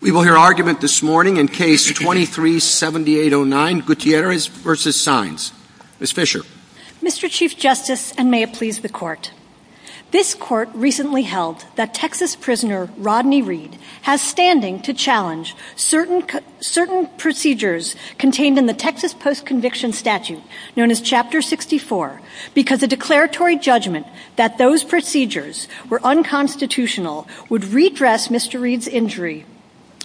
We will hear argument this morning in Case 23-7809 Gutierrez v. Saenz. Ms. Fisher. Mr. Chief Justice, and may it please the Court, this Court recently held that Texas prisoner Rodney Reed has standing to challenge certain procedures contained in the Texas Post-Conviction Statute, known as Chapter 64, because the declaratory judgment that those procedures were unconstitutional would redress Mr. Reed's injury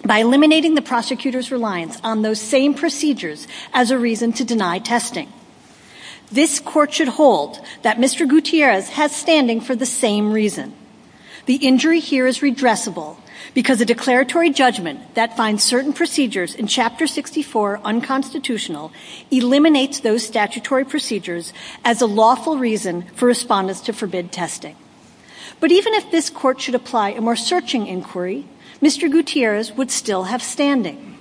by eliminating the prosecutor's reliance on those same procedures as a reason to deny testing. This Court should hold that Mr. Gutierrez has standing for the same reason. The injury here is redressable because the declaratory judgment that finds certain procedures in Chapter 64 unconstitutional eliminates those statutory procedures as a lawful reason for respondents to forbid testing. But even if this Court should apply a more searching inquiry, Mr. Gutierrez would still have standing.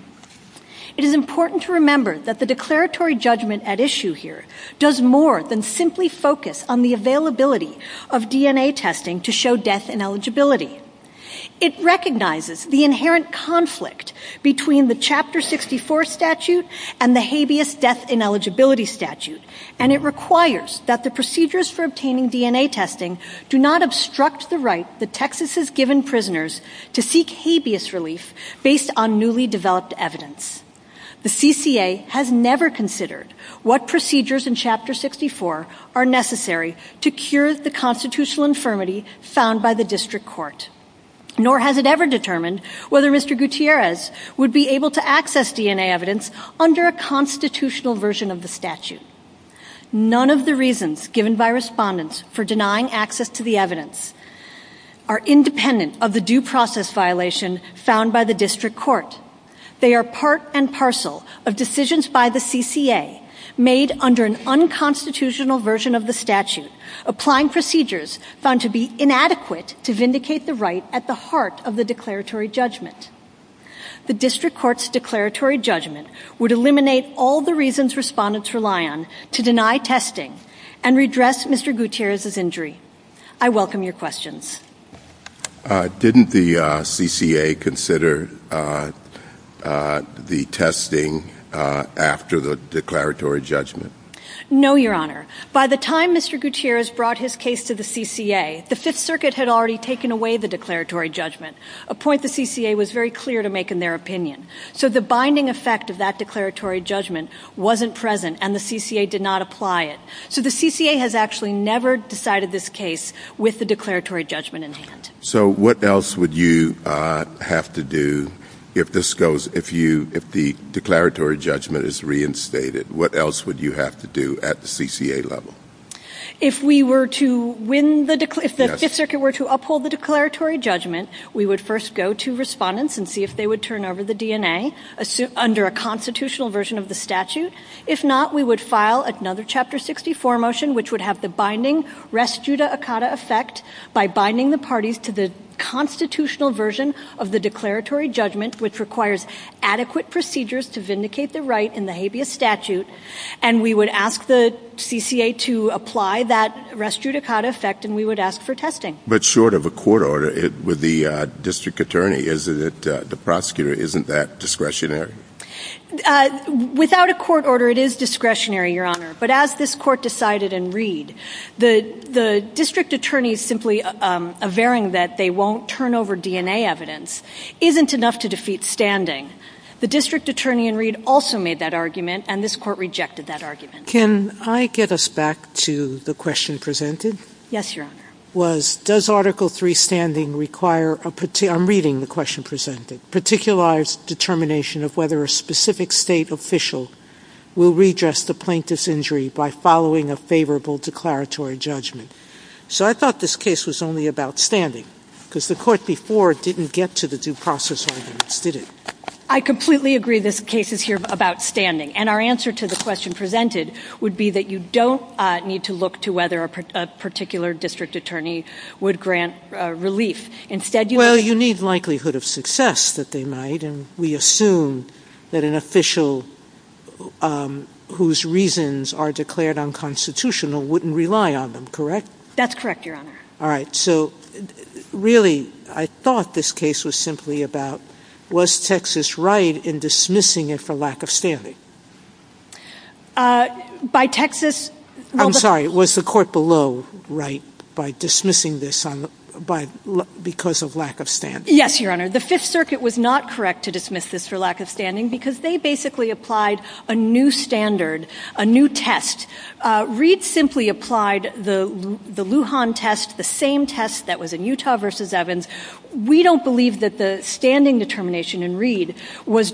It is important to remember that the declaratory judgment at issue here does more than simply focus on the availability of DNA testing to show death ineligibility. It recognizes the inherent conflict between the Chapter 64 statute and the habeas death ineligibility statute, and it requires that the procedures for obtaining DNA testing do not obstruct the right that Texas has given prisoners to seek habeas relief based on newly developed evidence. The CCA has never considered what procedures in Chapter 64 are necessary to cure the constitutional infirmity found by the District Court. Nor has it ever determined whether Mr. Gutierrez would be able to access DNA evidence under a constitutional version of the statute. None of the reasons given by respondents for denying access to the evidence are independent of the due process violation found by the District Court. They are part and parcel of decisions by the CCA made under an unconstitutional version of the statute, applying procedures found to be inadequate to vindicate the right at the heart of the declaratory judgment. The District Court's declaratory judgment would eliminate all the reasons respondents rely on to deny testing and redress Mr. Gutierrez's injury. I welcome your questions. Didn't the CCA consider the testing after the declaratory judgment? No, Your Honor. By the time Mr. Gutierrez brought his case to the CCA, the Fifth Circuit had already taken away the declaratory judgment, a point the CCA was very clear to make in their opinion. So the binding effect of that declaratory judgment wasn't present, and the CCA did not apply it. So the CCA has actually never decided this case with the declaratory judgment in hand. So what else would you have to do if the declaratory judgment is reinstated? What else would you have to do at the CCA level? If the Fifth Circuit were to uphold the declaratory judgment, we would first go to respondents and see if they would turn over the DNA under a constitutional version of the statute. If not, we would file another Chapter 64 motion, which would have the binding res juda a cata effect by binding the parties to the constitutional version of the declaratory judgment, which requires adequate procedures to vindicate the right in the habeas statute, and we would ask the CCA to apply that res juda cata effect, and we would ask for testing. But short of a court order with the district attorney, the prosecutor, isn't that discretionary? Without a court order, it is discretionary, Your Honor. But as this court decided in Reed, the district attorney simply averring that they won't turn over DNA evidence isn't enough to defeat standing. The district attorney in Reed also made that argument, and this court rejected that argument. Can I get us back to the question presented? Yes, Your Honor. It was, does Article III standing require a particular, I'm reading the question presented, particularized determination of whether a specific state official will redress the plaintiff's injury by following a favorable declaratory judgment. So I thought this case was only about standing, because the court before didn't get to the due process arguments, did it? I completely agree this case is here about standing, and our answer to the question presented would be that you don't need to look to whether a particular district attorney would grant relief. Instead, you need likelihood of success that they might, and we assume that an official whose reasons are declared unconstitutional wouldn't rely on them, correct? That's correct, Your Honor. All right. So, really, I thought this case was simply about, was Texas right in dismissing it for lack of standing? By Texas, I'm sorry, was the court below right by dismissing this because of lack of standing? Yes, Your Honor. The Fifth Circuit was not correct to dismiss this for lack of standing, because they basically applied a new standard, a new test. Reed simply applied the Lujan test, the same test that was in Utah versus Evans. We don't believe that the standing determination in Reed was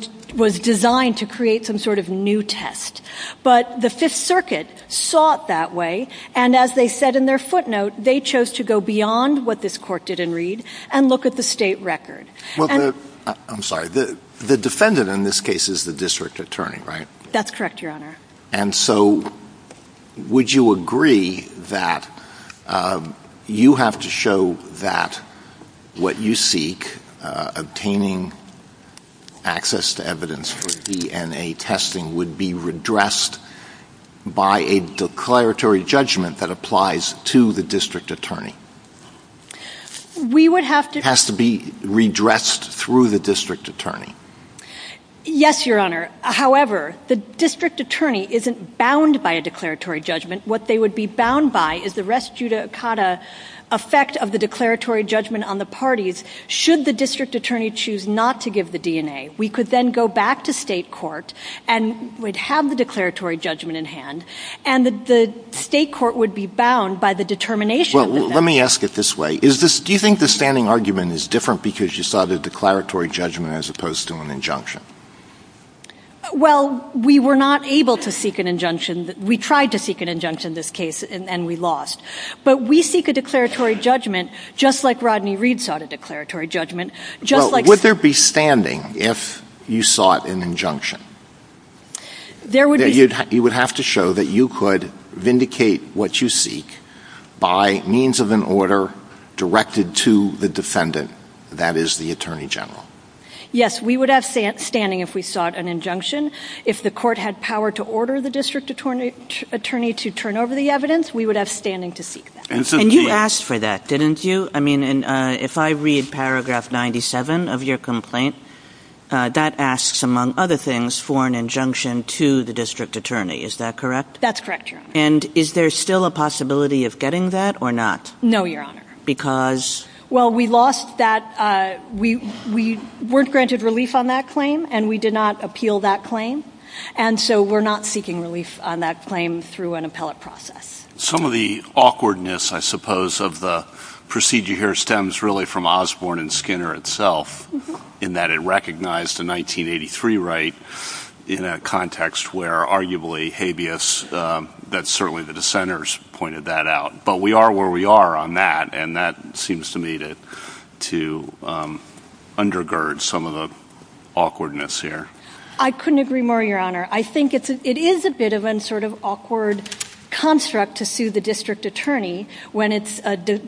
designed to create some sort of new test. But the Fifth Circuit sought that way, and as they said in their footnote, they chose to go beyond what this court did in Reed and look at the state record. I'm sorry, the defendant in this case is the district attorney, right? That's correct, Your Honor. And so, would you agree that you have to show that what you seek, obtaining access to evidence for DNA testing, would be redressed by a declaratory judgment that applies to the district attorney? We would have to... It has to be redressed through the district attorney? Yes, Your Honor. However, the district attorney isn't bound by a declaratory judgment. What they would be bound by is the res judicata effect of the declaratory judgment on the parties, should the district attorney choose not to give the DNA. We could then go back to state court and we'd have the declaratory judgment in hand, and the state court would be bound by the determination. Well, let me ask it this way. Do you think the standing argument is different because you saw the declaratory judgment as opposed to an injunction? Well, we were not able to seek an injunction. We tried to seek an injunction in this case, and we lost. But we seek a declaratory judgment just like Rodney Reed sought a declaratory judgment. Would there be standing if you sought an injunction? There would be. You would have to show that you could vindicate what you seek by means of an order directed to the defendant, that is, the attorney general. Yes, we would have standing if we sought an injunction. If the court had power to order the district attorney to turn over the evidence, we would have standing to seek that. And you asked for that, didn't you? I mean, if I read paragraph 97 of your complaint, that asks, among other things, for an injunction to the district attorney. Is that correct? That's correct, Your Honor. And is there still a possibility of getting that or not? No, Your Honor. Because? Well, we lost that. We weren't granted relief on that claim, and we did not appeal that claim, and so we're not seeking relief on that claim through an appellate process. Some of the awkwardness, I suppose, of the procedure here stems really from Osborne and Skinner itself in that it recognized the 1983 right in a context where arguably habeas, that certainly the dissenters pointed that out. But we are where we are on that, and that seems to me to undergird some of the awkwardness here. I couldn't agree more, Your Honor. I think it is a bit of an awkward construct to sue the district attorney when it's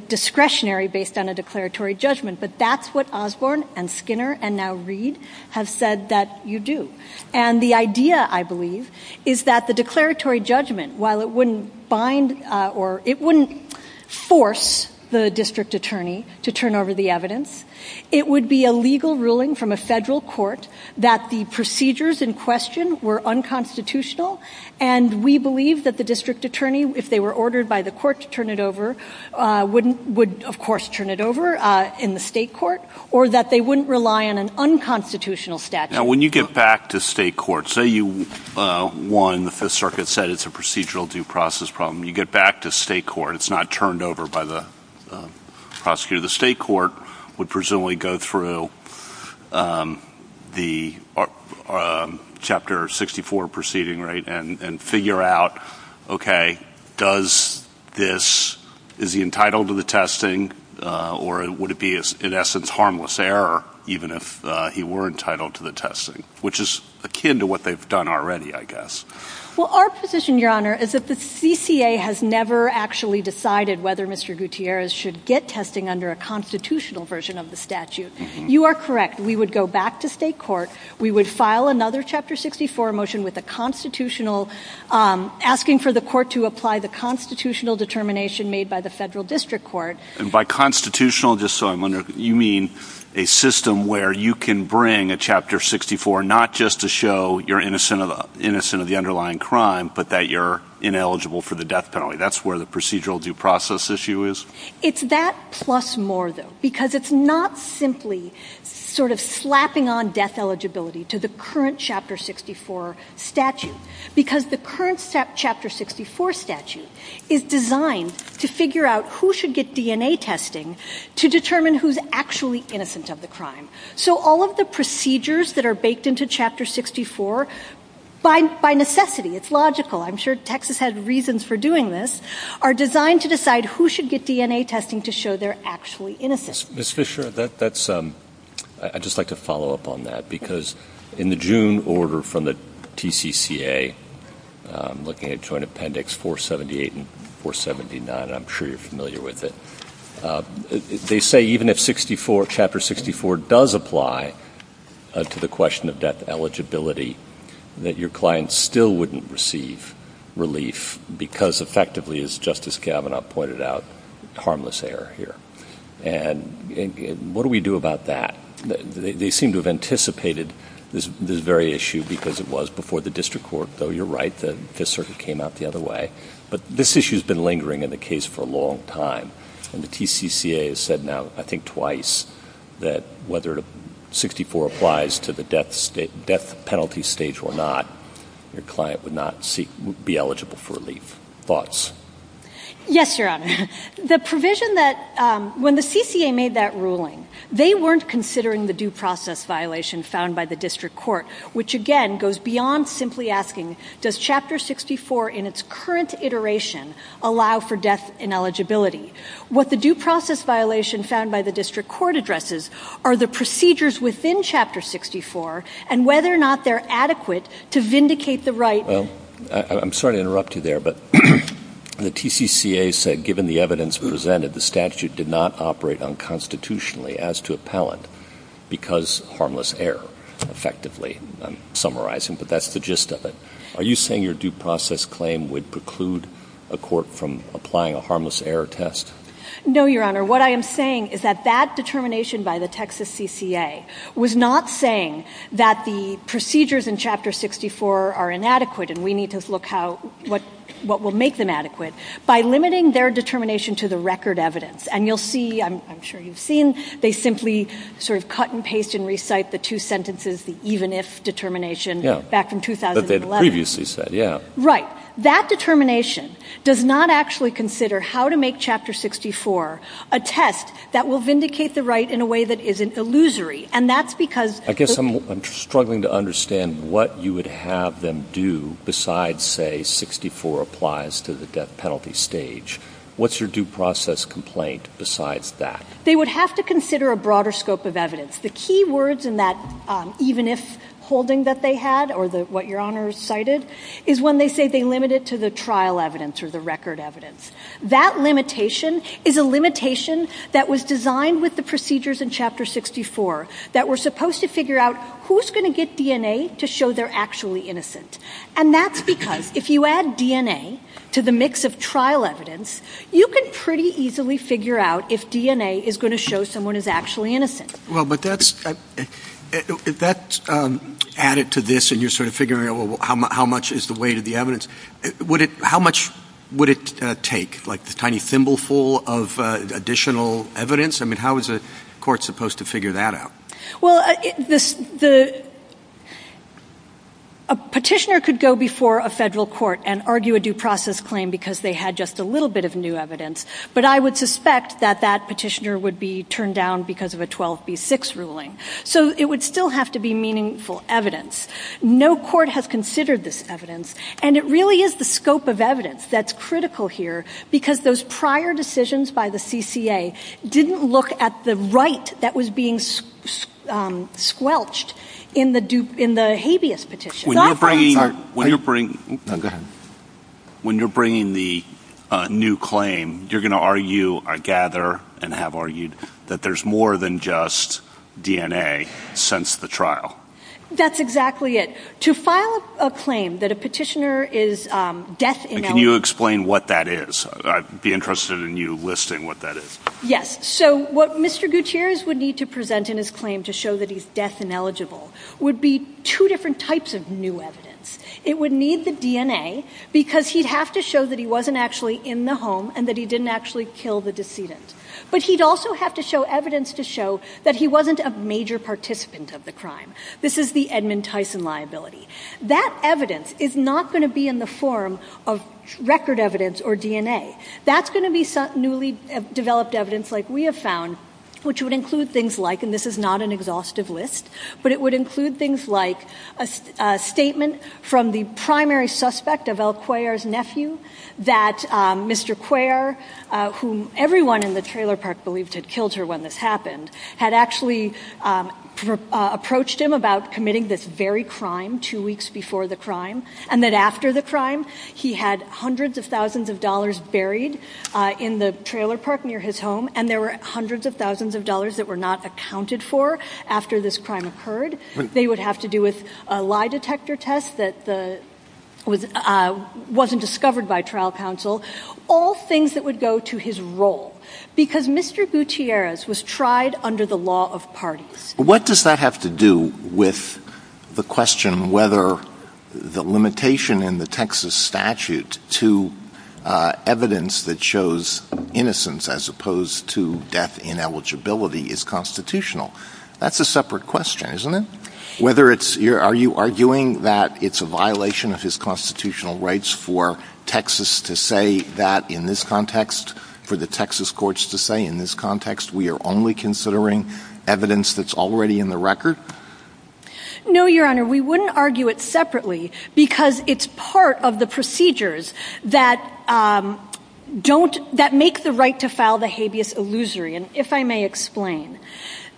discretionary based on a declaratory judgment, but that's what Osborne and Skinner and now Reed have said that you do. And the idea, I believe, is that the declaratory judgment, while it wouldn't bind or it wouldn't force the district attorney to turn over the evidence, it would be a legal ruling from a federal court that the procedures in question were unconstitutional, and we believe that the district attorney, if they were ordered by the court to turn it over, would, of course, turn it over in the state court, or that they wouldn't rely on an unconstitutional statute. Now, when you get back to state court, say you won the Fifth Circuit, said it's a procedural due process problem, you get back to state court, it's not turned over by the prosecutor. The state court would presumably go through the Chapter 64 proceeding and figure out, okay, does this, is he entitled to the testing, or would it be, in essence, harmless error even if he were entitled to the testing, which is akin to what they've done already, I guess. Well, our position, Your Honor, is that the CCA has never actually decided whether Mr. Gutierrez should get testing under a constitutional version of the statute. You are correct. We would go back to state court. We would file another Chapter 64 motion with a constitutional, asking for the court to apply the constitutional determination made by the federal district court. And by constitutional, just so I'm clear, you mean a system where you can bring a Chapter 64 not just to show you're innocent of the underlying crime, but that you're ineligible for the death penalty. That's where the procedural due process issue is? It's that plus more, though, because it's not simply sort of slapping on death eligibility to the current Chapter 64 statute, because the current Chapter 64 statute is designed to figure out who should get DNA testing to determine who's actually innocent of the crime. So all of the procedures that are baked into Chapter 64, by necessity, it's logical, I'm sure Texas has reasons for doing this, are designed to decide who should get DNA testing to show they're actually innocent. Ms. Fisher, I'd just like to follow up on that, because in the June order from the TCCA, looking at Joint Appendix 478 and 479, I'm sure you're familiar with it, they say even if Chapter 64 does apply to the question of death eligibility, that your client still wouldn't receive relief because effectively, as Justice Kavanaugh pointed out, it's harmless error here. And what do we do about that? They seem to have anticipated this very issue because it was before the district court, though you're right, the circuit came out the other way. But this issue's been lingering in the case for a long time, and the TCCA has said now I think twice that whether 64 applies to the death penalty stage or not, your client would not be eligible for relief. Thoughts? Yes, Your Honor. The provision that when the CCA made that ruling, they weren't considering the due process violation found by the district court, which again goes beyond simply asking does Chapter 64 in its current iteration allow for death ineligibility. What the due process violation found by the district court addresses are the procedures within Chapter 64 and whether or not they're adequate to vindicate the right. Well, I'm sorry to interrupt you there, but the TCCA said given the evidence presented, the statute did not operate unconstitutionally as to appellant because harmless error effectively. I'm summarizing, but that's the gist of it. Are you saying your due process claim would preclude a court from applying a harmless error test? No, Your Honor. What I am saying is that that determination by the Texas CCA was not saying that the procedures in Chapter 64 are inadequate and we need to look at what will make them adequate. By limiting their determination to the record evidence, and you'll see, I'm sure you've seen, they simply sort of cut and paste and recite the two sentences, the even if determination back in 2011. But they previously said, yeah. Right. That determination does not actually consider how to make Chapter 64 a test that will vindicate the right in a way that is an illusory. I guess I'm struggling to understand what you would have them do besides say 64 applies to the death penalty stage. What's your due process complaint besides that? They would have to consider a broader scope of evidence. The key words in that even if holding that they had or what Your Honor cited is when they say they limit it to the trial evidence or the record evidence. That limitation is a limitation that was designed with the procedures in Chapter 64 that we're supposed to figure out who's going to get DNA to show they're actually innocent. And that's because if you add DNA to the mix of trial evidence, you can pretty easily figure out if DNA is going to show someone is actually innocent. Well, but that's added to this and you're sort of figuring out how much is the weight of the evidence. How much would it take, like the tiny thimble full of additional evidence? I mean, how is a court supposed to figure that out? Well, a petitioner could go before a federal court and argue a due process claim because they had just a little bit of new evidence. But I would suspect that that petitioner would be turned down because of a 12B6 ruling. So it would still have to be meaningful evidence. No court has considered this evidence and it really is the scope of evidence that's critical here because those prior decisions by the CCA didn't look at the right that was being squelched in the habeas petition. When you're bringing the new claim, you're going to argue, I gather and have argued, that there's more than just DNA since the trial. That's exactly it. To file a claim that a petitioner is death ineligible... Can you explain what that is? I'd be interested in you listing what that is. Yes. So what Mr. Gutierrez would need to present in his claim to show that he's death ineligible would be two different types of new evidence. It would need the DNA because he'd have to show that he wasn't actually in the home and that he didn't actually kill the decedent. But he'd also have to show evidence to show that he wasn't a major participant of the crime. This is the Edmund Tyson liability. That evidence is not going to be in the form of record evidence or DNA. That's going to be newly developed evidence like we have found, which would include things like, and this is not an exhaustive list, but it would include things like a statement from the primary suspect of El Cuellar's nephew that Mr. Cuellar, whom everyone in the trailer park believed had killed her when this happened, had actually approached him about committing this very crime two weeks before the crime, and that after the crime he had hundreds of thousands of dollars buried in the trailer park near his home and there were hundreds of thousands of dollars that were not accounted for after this crime occurred. They would have to do with a lie detector test that wasn't discovered by trial counsel, all things that would go to his role because Mr. Gutierrez was tried under the law of parties. What does that have to do with the question whether the limitation in the Texas statute to evidence that shows innocence as opposed to death ineligibility is constitutional? That's a separate question, isn't it? Are you arguing that it's a violation of his constitutional rights for Texas to say that in this context, for the Texas courts to say in this context we are only considering evidence that's already in the record? No, Your Honor, we wouldn't argue it separately because it's part of the procedures that make the right to file the habeas illusory. And if I may explain,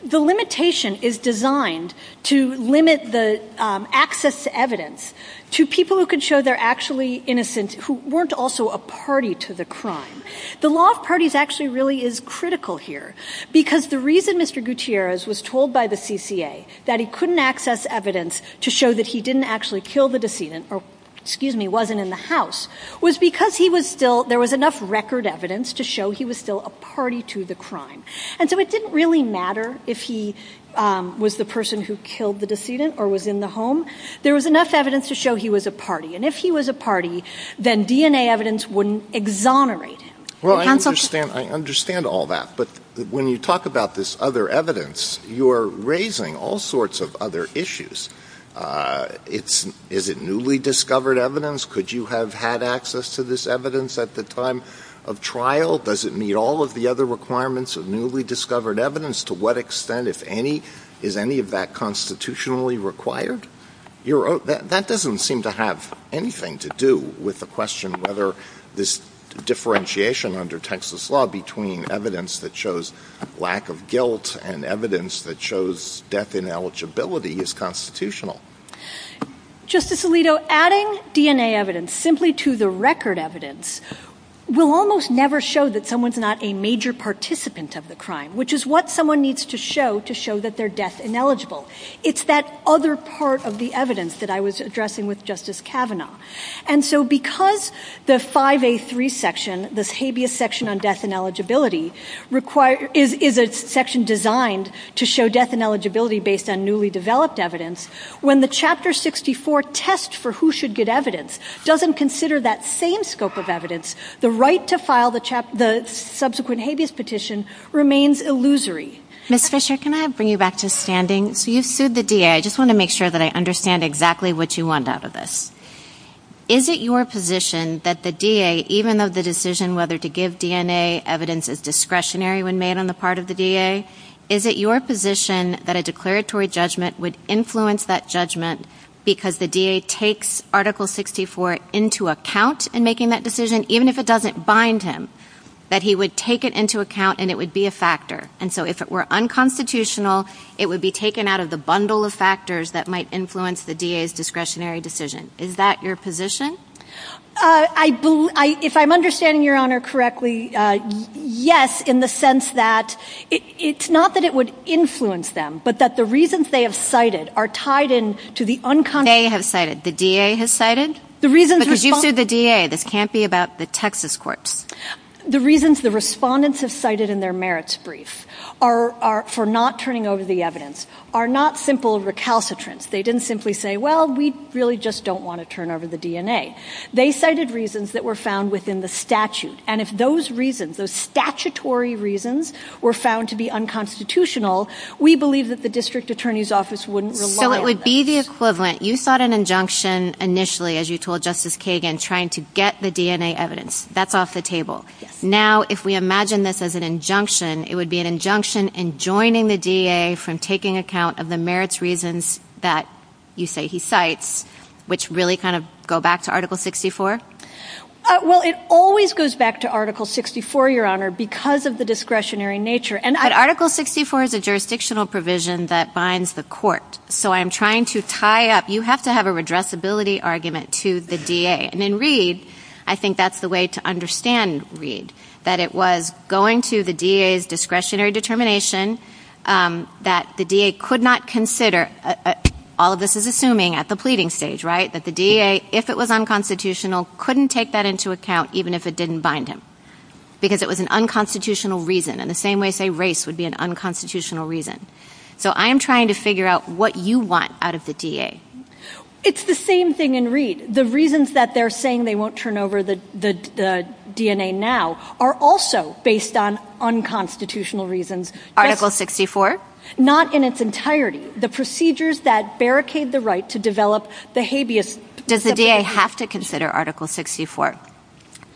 the limitation is designed to limit the access to evidence to people who could show they're actually innocent who weren't also a party to the crime. The law of parties actually really is critical here because the reason Mr. Gutierrez was told by the CCA that he couldn't access evidence to show that he didn't actually kill the decedent or, excuse me, wasn't in the house was because there was enough record evidence to show he was still a party to the crime. And so it didn't really matter if he was the person who killed the decedent or was in the home. There was enough evidence to show he was a party. And if he was a party, then DNA evidence wouldn't exonerate him. Well, I understand all that, but when you talk about this other evidence, you're raising all sorts of other issues. Is it newly discovered evidence? Could you have had access to this evidence at the time of trial? Does it meet all of the other requirements of newly discovered evidence? To what extent, if any, is any of that constitutionally required? That doesn't seem to have anything to do with the question whether this differentiation under Texas law between evidence that shows lack of guilt and evidence that shows death ineligibility is constitutional. Justice Alito, adding DNA evidence simply to the record evidence will almost never show that someone's not a major participant of the crime, which is what someone needs to show to show that they're death ineligible. It's that other part of the evidence that I was addressing with Justice Kavanaugh. And so because the 5A3 section, the habeas section on death ineligibility, is a section designed to show death ineligibility based on newly developed evidence, when the Chapter 64 test for who should get evidence doesn't consider that same scope of evidence, the right to file the subsequent habeas petition remains illusory. Ms. Fisher, can I bring you back to standing? So you sued the DA. I just want to make sure that I understand exactly what you want out of this. Is it your position that the DA, even of the decision whether to give DNA evidence is discretionary when made on the part of the DA, is it your position that a declaratory judgment would influence that judgment because the DA takes Article 64 into account in making that decision, even if it doesn't bind him, that he would take it into account and it would be a factor? And so if it were unconstitutional, it would be taken out of the bundle of factors that might influence the DA's discretionary decision. Is that your position? If I'm understanding Your Honor correctly, yes, in the sense that it's not that it would influence them, but that the reasons they have cited are tied in to the unconstitutional. They have cited, the DA has cited? But you sued the DA. This can't be about the Texas courts. The reasons the respondents have cited in their merits brief for not turning over the evidence are not simple recalcitrance. They didn't simply say, well, we really just don't want to turn over the DNA. They cited reasons that were found within the statute, and if those reasons, those statutory reasons, were found to be unconstitutional, we believe that the District Attorney's Office wouldn't rely on them. So it would be the equivalent. You thought an injunction initially, as you told Justice Kagan, trying to get the DNA evidence. That's off the table. Now, if we imagine this as an injunction, it would be an injunction in joining the DA from taking account of the merits reasons that you say he cites, which really kind of go back to Article 64? Well, it always goes back to Article 64, Your Honor, because of the discretionary nature. But Article 64 is a jurisdictional provision that binds the court. So I'm trying to tie up. You have to have a redressability argument to the DA. And in Reed, I think that's the way to understand Reed, that it was going to the DA's discretionary determination that the DA could not consider, all this is assuming at the pleading stage, right, that the DA, if it was unconstitutional, couldn't take that into account even if it didn't bind him because it was an unconstitutional reason, in the same way, say, race would be an unconstitutional reason. So I'm trying to figure out what you want out of the DA. It's the same thing in Reed. The reasons that they're saying they won't turn over the DNA now are also based on unconstitutional reasons. Article 64? Not in its entirety. The procedures that barricade the right to develop the habeas. Does the DA have to consider Article 64?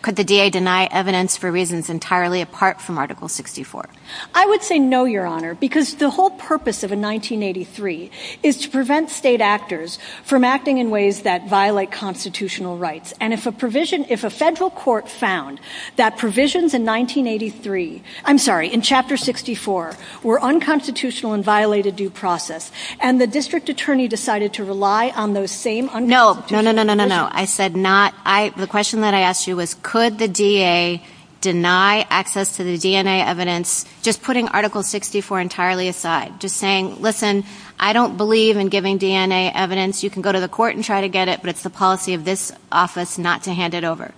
Could the DA deny evidence for reasons entirely apart from Article 64? I would say no, Your Honor, because the whole purpose of a 1983 is to prevent state actors from acting in ways that violate constitutional rights. And if a provision, if a federal court found that provisions in 1983, I'm sorry, in Chapter 64, were unconstitutional and violated due process, and the district attorney decided to rely on those same unconstitutional. No, no, no, no, no, no. I said not, the question that I asked you was could the DA deny access to the DNA evidence, just putting Article 64 entirely aside, just saying, listen, I don't believe in giving DNA evidence. You can go to the court and try to get it, but it's the policy of this office not to hand it over.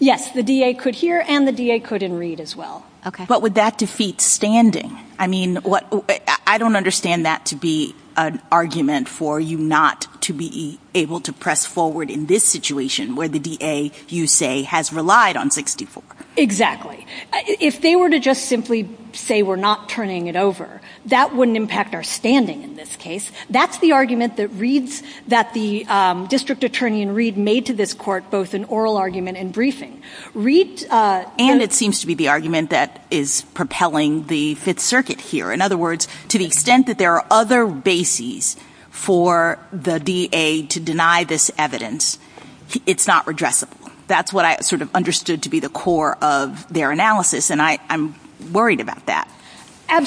Yes, the DA could hear and the DA could in Reed as well. Okay. But would that defeat standing? I mean, I don't understand that to be an argument for you not to be able to press forward in this situation where the DA, you say, has relied on 64. Exactly. If they were to just simply say we're not turning it over, that wouldn't impact our standing in this case. That's the argument that Reed, that the district attorney in Reed made to this court, both an oral argument and briefing. Reed- And it seems to be the argument that is propelling the Fifth Circuit here. In other words, to the extent that there are other bases for the DA to deny this evidence, it's not redressable. That's what I sort of understood to be the core of their analysis, and I'm worried about that. And,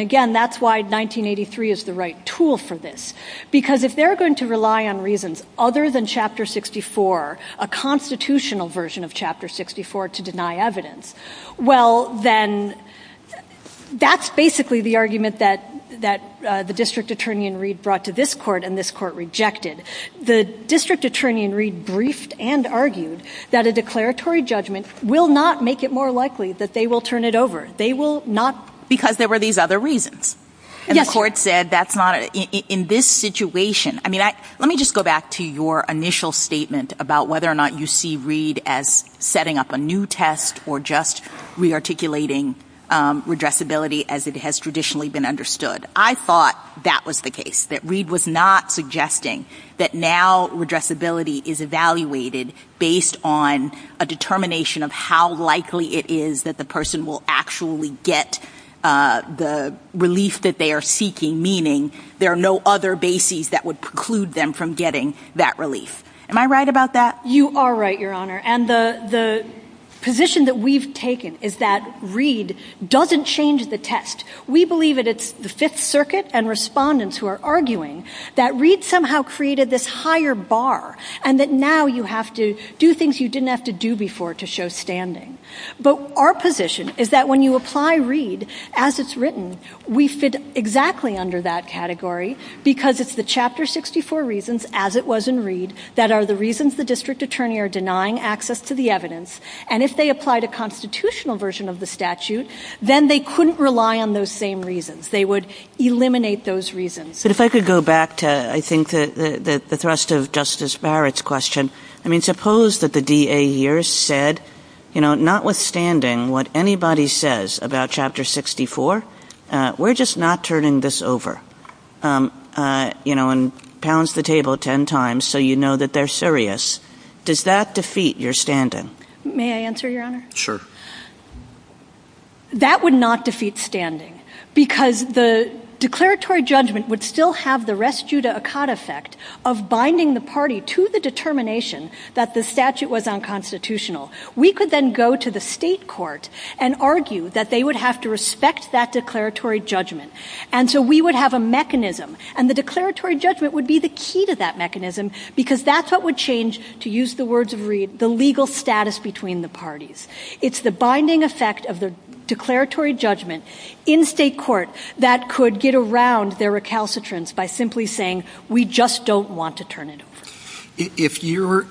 again, that's why 1983 is the right tool for this. Because if they're going to rely on reasons other than Chapter 64, a constitutional version of Chapter 64, to deny evidence, well, then that's basically the argument that the district attorney in Reed brought to this court and this court rejected. The district attorney in Reed briefed and argued that a declaratory judgment will not make it more likely that they will turn it over. They will not- Because there were these other reasons. Yes. And the court said that's not, in this situation- I mean, let me just go back to your initial statement about whether or not you see Reed as setting up a new test or just rearticulating redressability as it has traditionally been understood. I thought that was the case, that Reed was not suggesting that now redressability is evaluated based on a determination of how likely it is that the person will actually get the relief that they are seeking, meaning there are no other bases that would preclude them from getting that relief. Am I right about that? You are right, Your Honor. And the position that we've taken is that Reed doesn't change the test. We believe that it's the Fifth Circuit and respondents who are arguing that Reed somehow created this higher bar and that now you have to do things you didn't have to do before to show standing. But our position is that when you apply Reed as it's written, we fit exactly under that category because it's the Chapter 64 reasons as it was in Reed that are the reasons the district attorney are denying access to the evidence and if they applied a constitutional version of the statute, then they couldn't rely on those same reasons. They would eliminate those reasons. But if I could go back to, I think, the thrust of Justice Barrett's question. I mean, suppose that the DA here said, you know, notwithstanding what anybody says about Chapter 64, we're just not turning this over, you know, and pounds the table ten times so you know that they're serious. Does that defeat your standing? May I answer, Your Honor? Sure. That would not defeat standing because the declaratory judgment would still have the res juda acada fact of binding the party to the determination that the statute was unconstitutional. We could then go to the state court and argue that they would have to respect that declaratory judgment and so we would have a mechanism and the declaratory judgment would be the key to that mechanism because that's what would change, to use the words of Reid, the legal status between the parties. It's the binding effect of the declaratory judgment in state court that could get around their recalcitrance by simply saying, we just don't want to turn it over. If your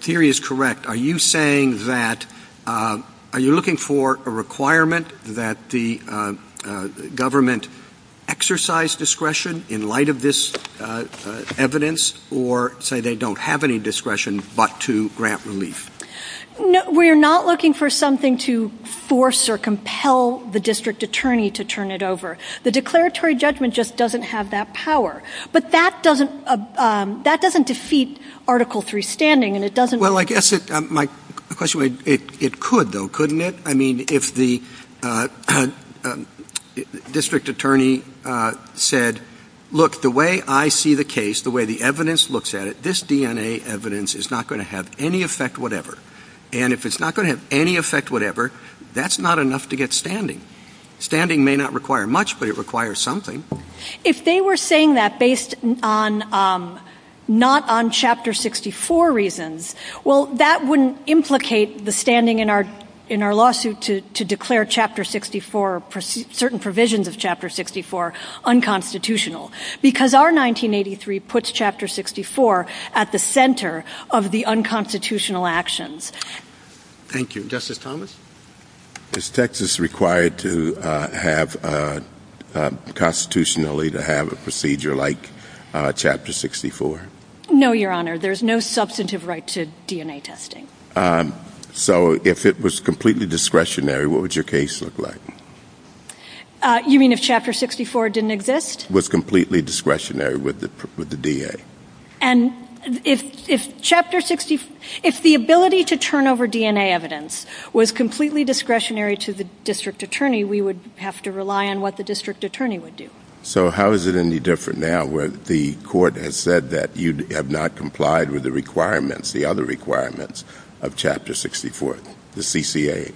theory is correct, are you saying that, are you looking for a requirement that the government exercise discretion in light of this evidence or say they don't have any discretion but to grant relief? No, we're not looking for something to force or compel the district attorney to turn it over. The declaratory judgment just doesn't have that power. But that doesn't, that doesn't defeat Article 3 standing and it doesn't... Well, I guess my question, it could though, couldn't it? I mean, if the district attorney said, look, the way I see the case, the way the evidence looks at it, this DNA evidence is not going to have any effect whatever. And if it's not going to have any effect whatever, that's not enough to get standing. Standing may not require much but it requires something. If they were saying that based on, not on Chapter 64 reasons, well, that wouldn't implicate the standing in our lawsuit to declare Chapter 64, certain provisions of Chapter 64 unconstitutional because our 1983 puts Chapter 64 at the center of the unconstitutional actions. Thank you. Justice Thomas? Is Texas required to have constitutionally to have a procedure like Chapter 64? No, Your Honor. There's no substantive right to DNA testing. So if it was completely discretionary, what would your case look like? You mean if Chapter 64 didn't exist? Was completely discretionary with the DA. And if Chapter 64, if the ability to turn over DNA evidence was completely discretionary to the district attorney, we would have to rely on what the district attorney would do. So how is it any different now where the court has said that you have not complied with the requirements, the other requirements of Chapter 64, the CCA?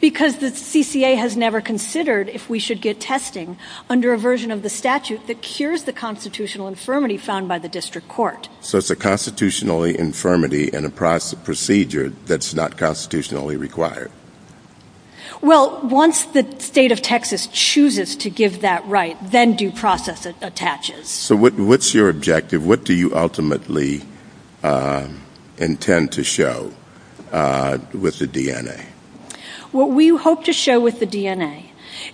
Because the CCA has never considered if we should get testing under a version of the statute that cures the constitutional infirmity found by the district court. So it's a constitutionally infirmity and a procedure that's not constitutionally required. Well, once the state of Texas chooses to give that right, then due process attaches. So what's your objective? What do you ultimately intend to show with the DNA? What we hope to show with the DNA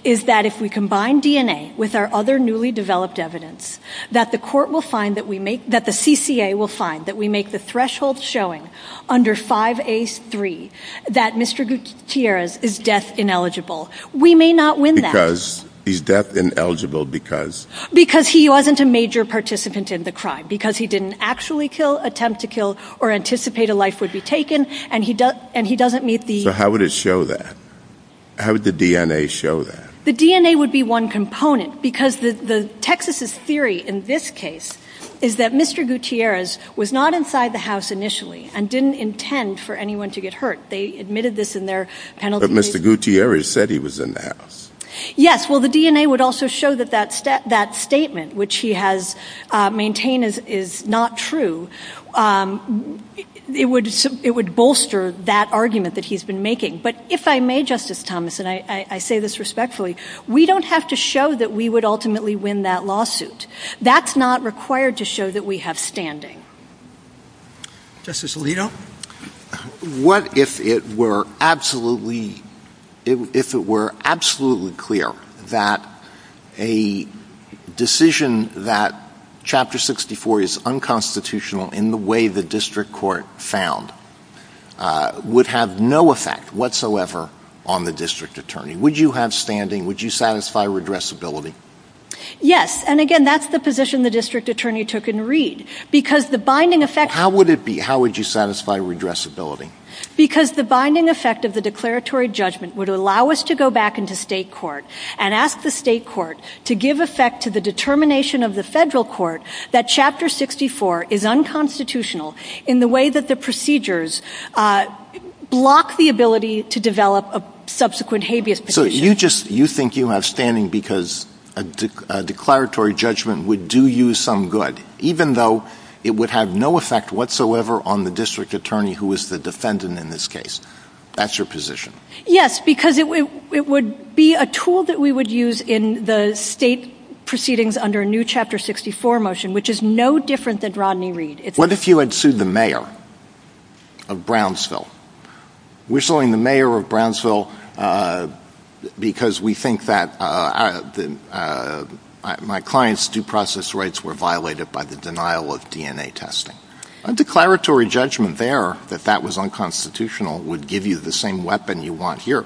is that if we combine DNA with our other newly developed evidence, that the court will find that we make, that the CCA will find that we make the threshold showing under 5A.3 that Mr. Gutierrez is death ineligible. We may not win that. Because he's death ineligible because? Because he wasn't a major participant in the crime. Because he didn't actually kill, attempt to kill, or anticipate a life would be taken. And he doesn't meet the... So how would it show that? How would the DNA show that? The DNA would be one component. Texas' theory in this case is that Mr. Gutierrez was not inside the house initially and didn't intend for anyone to get hurt. They admitted this in their penalty case. But Mr. Gutierrez said he was in the house. Yes. Well, the DNA would also show that that statement, which he has maintained is not true. It would bolster that argument that he's been making. But if I may, Justice Thomas, and I say this respectfully, we don't have to show that we would ultimately win that lawsuit. That's not required to show that we have standing. Justice Alito? What if it were absolutely clear that a decision that Chapter 64 is unconstitutional in the way the district court found would have no effect? whatsoever on the district attorney? Would you have standing? Would you satisfy redressability? Yes. And again, that's the position the district attorney took in Reed. Because the binding effect... How would it be? How would you satisfy redressability? Because the binding effect of the declaratory judgment would allow us to go back into state court and ask the state court to give effect to the determination of the federal court that Chapter 64 is unconstitutional in the way that the procedures block the ability to develop a subsequent habeas petition. So you think you have standing because a declaratory judgment would do you some good, even though it would have no effect whatsoever on the district attorney who is the defendant in this case. That's your position. Yes, because it would be a tool that we would use in the state proceedings under a new Chapter 64 motion, which is no different than Rodney Reed. What if you had sued the mayor of Brownsville? We're suing the mayor of Brownsville because we think that my client's due process rights were violated by the denial of DNA testing. A declaratory judgment there that that was unconstitutional would give you the same weapon you want here.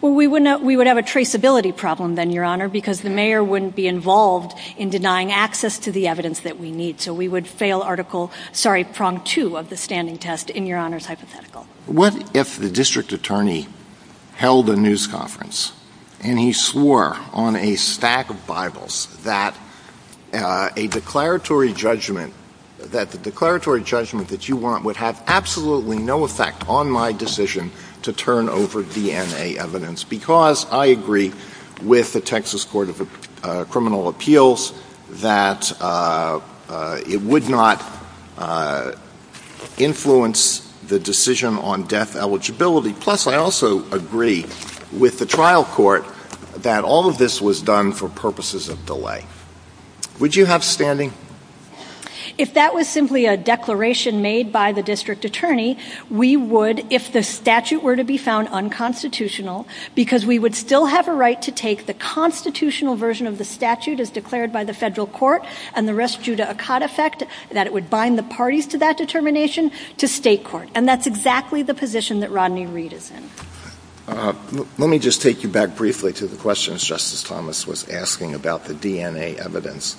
Well, we would have a traceability problem then, Your Honor, because the mayor wouldn't be involved in denying access to the evidence that we need. So we would fail Article... Sorry, Prong 2 of the standing test in Your Honor's hypothetical. What if the district attorney held a news conference and he swore on a stack of Bibles that a declaratory judgment, that the declaratory judgment that you want would have absolutely no effect on my decision to turn over DNA evidence? Because I agree with the Texas Court of Criminal Appeals that it would not influence the decision on death eligibility. Plus, I also agree with the trial court that all of this was done for purposes of delay. Would you have standing? If that was simply a declaration made by the district attorney, we would, if the statute were to be found unconstitutional, because we would still have a right to take the constitutional version of the statute as declared by the federal court and the rest due to a cod effect that it would bind the parties to that determination to state court. And that's exactly the position that Rodney Reed is in. Let me just take you back briefly to the questions Justice Thomas was asking about the DNA evidence.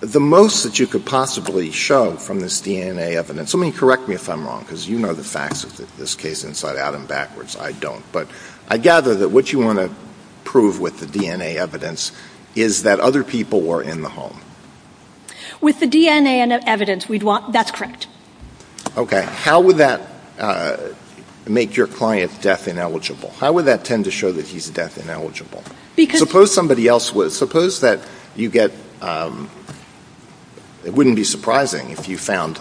The most that you could possibly show from this DNA evidence... Let me correct me if I'm wrong, because you know the facts in this case inside out and backwards. I don't. But I gather that what you want to prove with the DNA evidence is that other people were in the home. With the DNA evidence, that's correct. Okay. How would that make your client death ineligible? How would that tend to show that he's death ineligible? Suppose somebody else was. Suppose that you get... It wouldn't be surprising if you found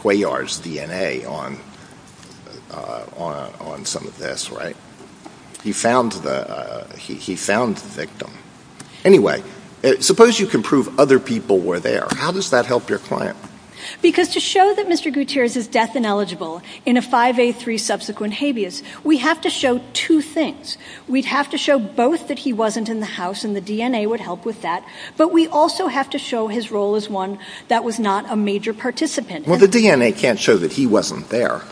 Cuellar's DNA on some of this, right? He found the victim. Anyway, suppose you can prove other people were there. How does that help your client? Because to show that Mr. Gutierrez is death ineligible in a 5A3 subsequent habeas, we have to show two things. We have to show both that he wasn't in the house, and the DNA would help with that. But we also have to show his role as one that was not a major participant. Well, the DNA can't show that he wasn't there.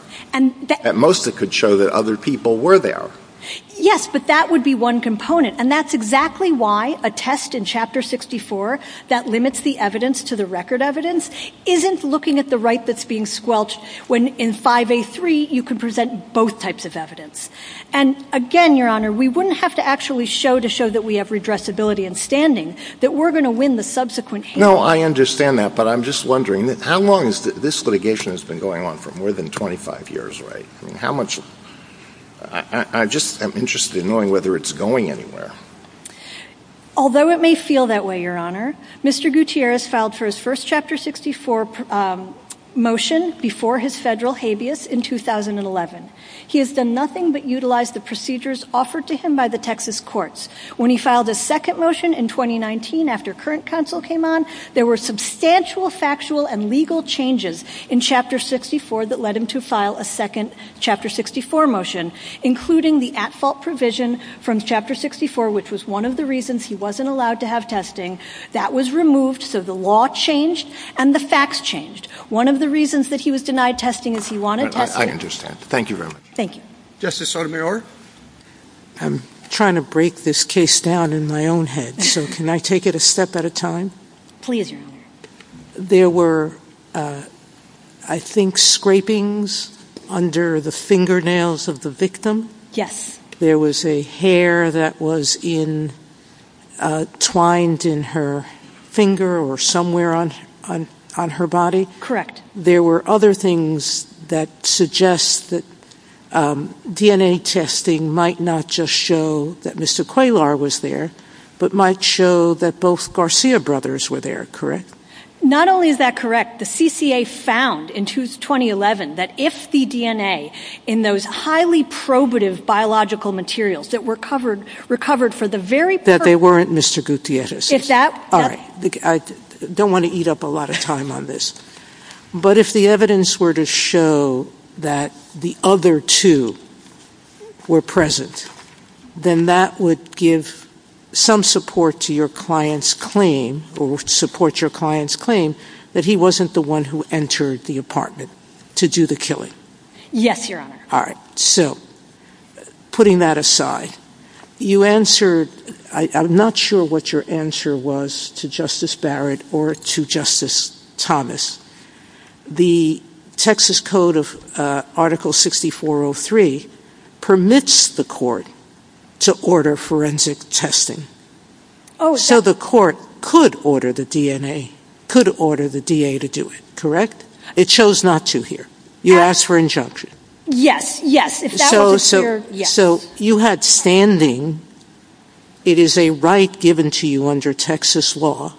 At most, it could show that other people were there. Yes, but that would be one component. And that's exactly why a test in Chapter 64 that limits the evidence to the record evidence isn't looking at the right that's being squelched when in 5A3 you can present both types of evidence. And, again, Your Honor, we wouldn't have to actually show to show that we have redressability in standing that we're going to win the subsequent hearing. No, I understand that, but I'm just wondering, how long has this litigation been going on for? More than 25 years, right? I just am interested in knowing whether it's going anywhere. Although it may feel that way, Your Honor, Mr. Gutierrez filed for his first Chapter 64 motion before his federal habeas in 2011. He has done nothing but utilize the procedures offered to him by the Texas courts. When he filed his second motion in 2019 after current counsel came on, there were substantial factual and legal changes in Chapter 64 that led him to file a second Chapter 64 motion, including the at-fault provision from Chapter 64, which was one of the reasons he wasn't allowed to have testing. That was removed, so the law changed and the facts changed. One of the reasons that he was denied testing is he wanted testing. I understand. Thank you very much. Thank you. Justice Sotomayor? I'm trying to break this case down in my own head, so can I take it a step at a time? Please, Your Honor. There were, I think, scrapings under the fingernails of the victim. Yes. There was a hair that was entwined in her finger or somewhere on her body. Correct. There were other things that suggest that DNA testing might not just show that Mr. Qualar was there, but might show that both Garcia brothers were there, correct? Not only is that correct, the CCA found in 2011 that if the DNA in those highly probative biological materials that were recovered for the very purpose of That they weren't Mr. Gutierrez's. If that I don't want to eat up a lot of time on this, but if the evidence were to show that the other two were present, then that would give some support to your client's claim, or support your client's claim, that he wasn't the one who entered the apartment to do the killing. Yes, Your Honor. All right. So, putting that aside, you answered, I'm not sure what your answer was to Justice Barrett or to Justice Thomas. The Texas Code of Article 6403 permits the court to order forensic testing. So the court could order the DNA, could order the DA to do it, correct? It chose not to here. You asked for injunction. Yes, yes. So you had standing. It is a right given to you under Texas law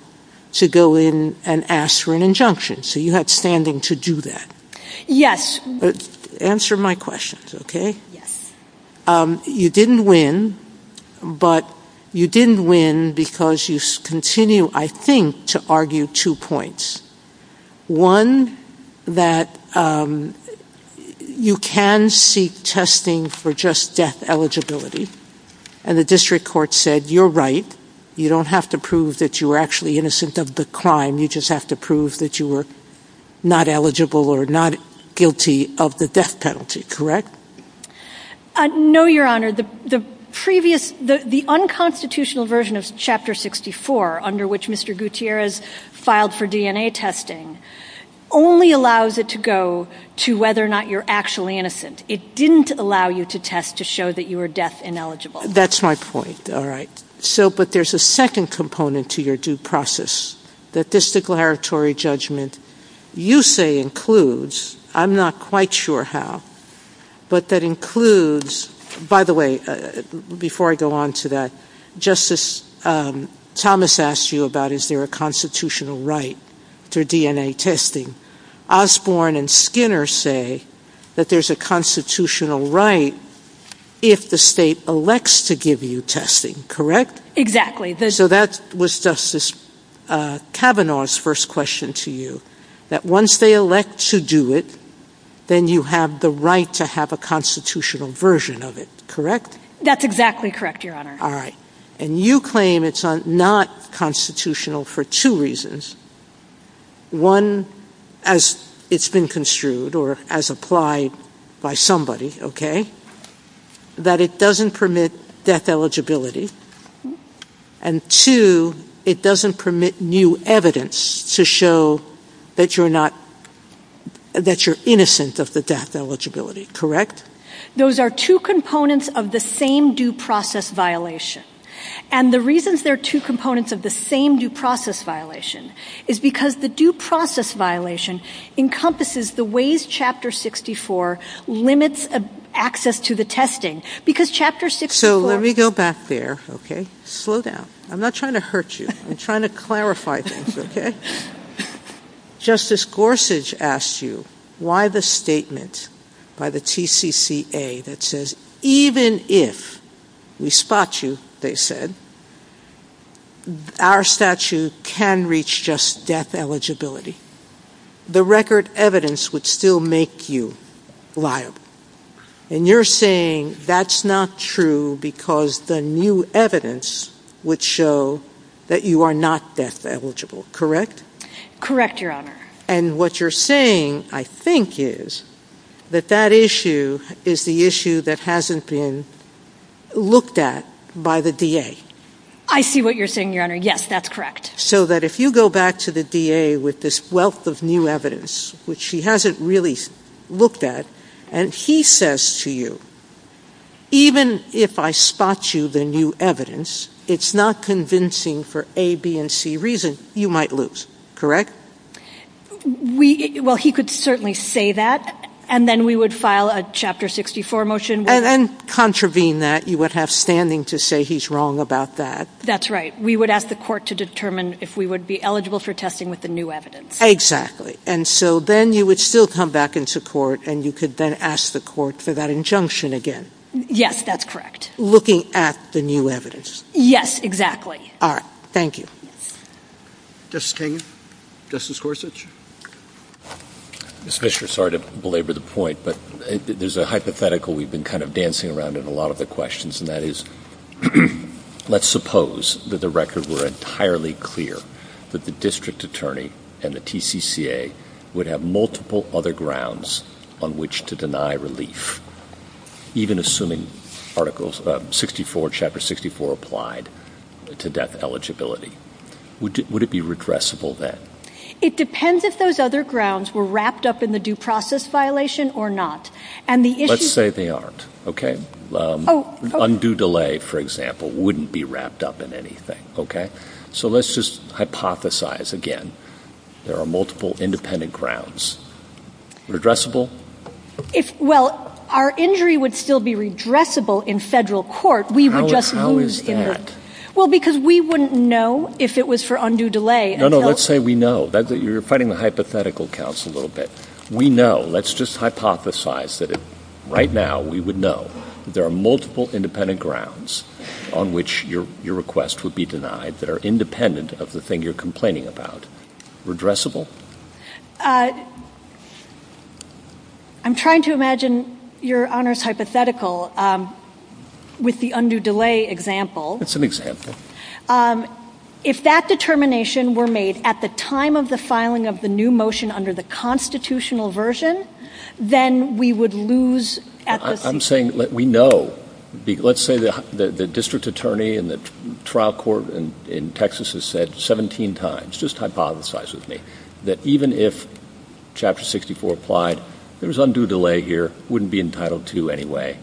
to go in and ask for an injunction. So you had standing to do that. Yes. Answer my questions, okay? You didn't win, but you didn't win because you continue, I think, to argue two points. One, that you can seek testing for just death eligibility, and the district court said, you're right. You don't have to prove that you were actually innocent of the crime. You just have to prove that you were not eligible or not guilty of the death penalty, correct? No, Your Honor. The unconstitutional version of Chapter 64, under which Mr. Gutierrez filed for DNA testing, only allows it to go to whether or not you're actually innocent. It didn't allow you to test to show that you were death ineligible. That's my point. All right. But there's a second component to your due process that this declaratory judgment, you say, includes. I'm not quite sure how. But that includes, by the way, before I go on to that, Justice Thomas asked you about is there a constitutional right to DNA testing. Osborne and Skinner say that there's a constitutional right if the state elects to give you testing, correct? Exactly. So that was Justice Kavanaugh's first question to you, that once they elect to do it, then you have the right to have a constitutional version of it, correct? That's exactly correct, Your Honor. All right. And you claim it's not constitutional for two reasons. One, as it's been construed or as applied by somebody, okay, that it doesn't permit death eligibility. And two, it doesn't permit new evidence to show that you're innocent of the death eligibility, correct? Those are two components of the same due process violation. And the reasons they're two components of the same due process violation is because the due process violation encompasses the ways Chapter 64 limits access to the testing. So let me go back there, okay? Slow down. I'm not trying to hurt you. I'm trying to clarify things, okay? Justice Gorsuch asked you why the statement by the TCCA that says even if we spot you, they said, our statute can reach just death eligibility. The record evidence would still make you liable. And you're saying that's not true because the new evidence would show that you are not death eligible, correct? Correct, Your Honor. And what you're saying, I think, is that that issue is the issue that hasn't been looked at by the DA. I see what you're saying, Your Honor. Yes, that's correct. So that if you go back to the DA with this wealth of new evidence, which he hasn't really looked at, and he says to you, even if I spot you the new evidence, it's not convincing for A, B, and C reasons, you might lose, correct? Well, he could certainly say that, and then we would file a Chapter 64 motion. And contravene that, you would have standing to say he's wrong about that. That's right. We would ask the court to determine if we would be eligible for testing with the new evidence. And so then you would still come back into court, and you could then ask the court for that injunction again. Yes, that's correct. Looking at the new evidence. Yes, exactly. All right. Thank you. Justice Kagan? Justice Gorsuch? Ms. Fisher, sorry to belabor the point, but there's a hypothetical we've been kind of dancing around in a lot of the questions. And that is, let's suppose that the records were entirely clear that the district attorney and the TCCA would have multiple other grounds on which to deny relief, even assuming Article 64, Chapter 64 applied to death eligibility. Would it be redressable then? It depends if those other grounds were wrapped up in the due process violation or not. Let's say they aren't. Undue delay, for example, wouldn't be wrapped up in anything. So let's just hypothesize again. There are multiple independent grounds. Redressable? Well, our injury would still be redressable in federal court. How is that? Well, because we wouldn't know if it was for undue delay. No, no. Let's say we know. You're fighting the hypothetical, counsel, a little bit. We know. Let's just hypothesize that right now we would know. There are multiple independent grounds on which your request would be denied that are independent of the thing you're complaining about. Redressable? I'm trying to imagine Your Honor's hypothetical with the undue delay example. It's an example. If that determination were made at the time of the filing of the new motion under the constitutional version, then we would lose at this point. I'm saying we know. Let's say the district attorney in the trial court in Texas has said 17 times, just hypothesize with me, that even if Chapter 64 applied, there's undue delay here, wouldn't be entitled to anyway.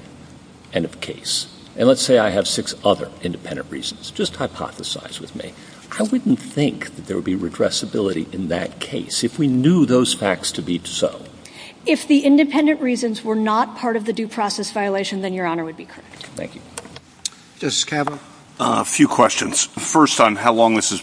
End of case. And let's say I have six other independent reasons. Just hypothesize with me. I wouldn't think there would be redressability in that case if we knew those facts to be so. If the independent reasons were not part of the due process violation, then Your Honor would be correct. Thank you. Justice Kavanaugh? A few questions. First, on how long this has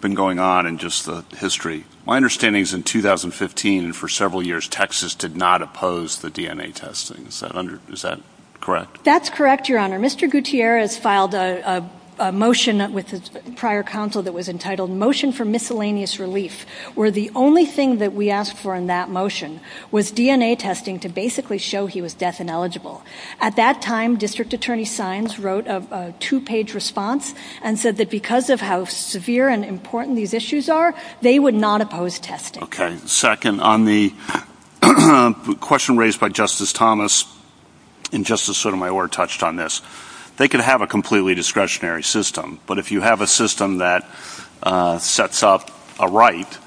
been going on and just the history. My understanding is in 2015, for several years, Texas did not oppose the DNA testing. Is that correct? That's correct, Your Honor. Mr. Gutierrez filed a motion with his prior counsel that was entitled Motion for Miscellaneous Relief, where the only thing that we asked for in that motion was DNA testing to basically show he was death ineligible. At that time, District Attorney Sines wrote a two-page response and said that because of how severe and important these issues are, they would not oppose testing. Okay. Second, on the question raised by Justice Thomas, and Justice Sotomayor touched on this, they could have a completely discretionary system. But if you have a system that sets up a right,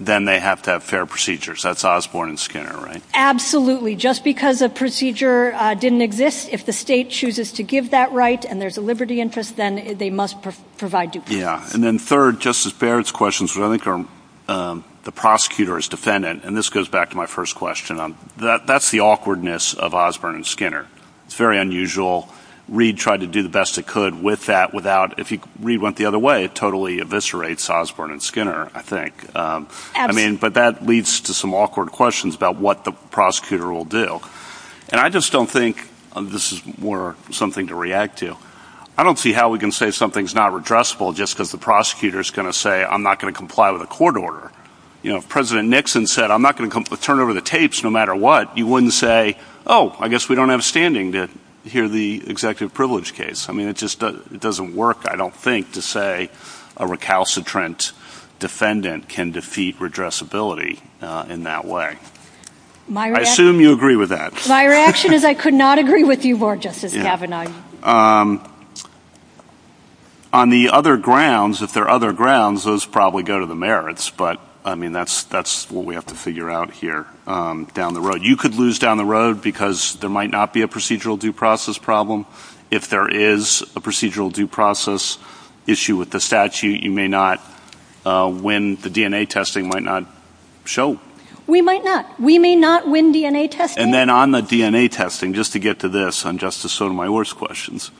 then they have to have fair procedures. That's Osborne and Skinner, right? Absolutely. Just because a procedure didn't exist, if the state chooses to give that right and there's a liberty interest, then they must provide due process. Yeah. And then third, Justice Barrett's question, which I think the prosecutor is defendant, and this goes back to my first question, that's the awkwardness of Osborne and Skinner. It's very unusual. Reid tried to do the best it could with that without, if Reid went the other way, totally eviscerates Osborne and Skinner, I think. But that leads to some awkward questions about what the prosecutor will do. And I just don't think this is more something to react to. I don't see how we can say something's not redressable just because the prosecutor is going to say, I'm not going to comply with a court order. President Nixon said, I'm not going to turn over the tapes no matter what. He wouldn't say, oh, I guess we don't have standing to hear the executive privilege case. I mean, it just doesn't work, I don't think, to say a recalcitrant defendant can defeat redressability in that way. I assume you agree with that. My reaction is I could not agree with you more, Justice Kavanaugh. On the other grounds, if there are other grounds, those probably go to the merits. But, I mean, that's what we have to figure out here down the road. You could lose down the road because there might not be a procedural due process problem. If there is a procedural due process issue with the statute, you may not win. The DNA testing might not show. We might not. We may not win DNA testing. And then on the DNA testing, just to get to this, on Justice Sotomayor's questions,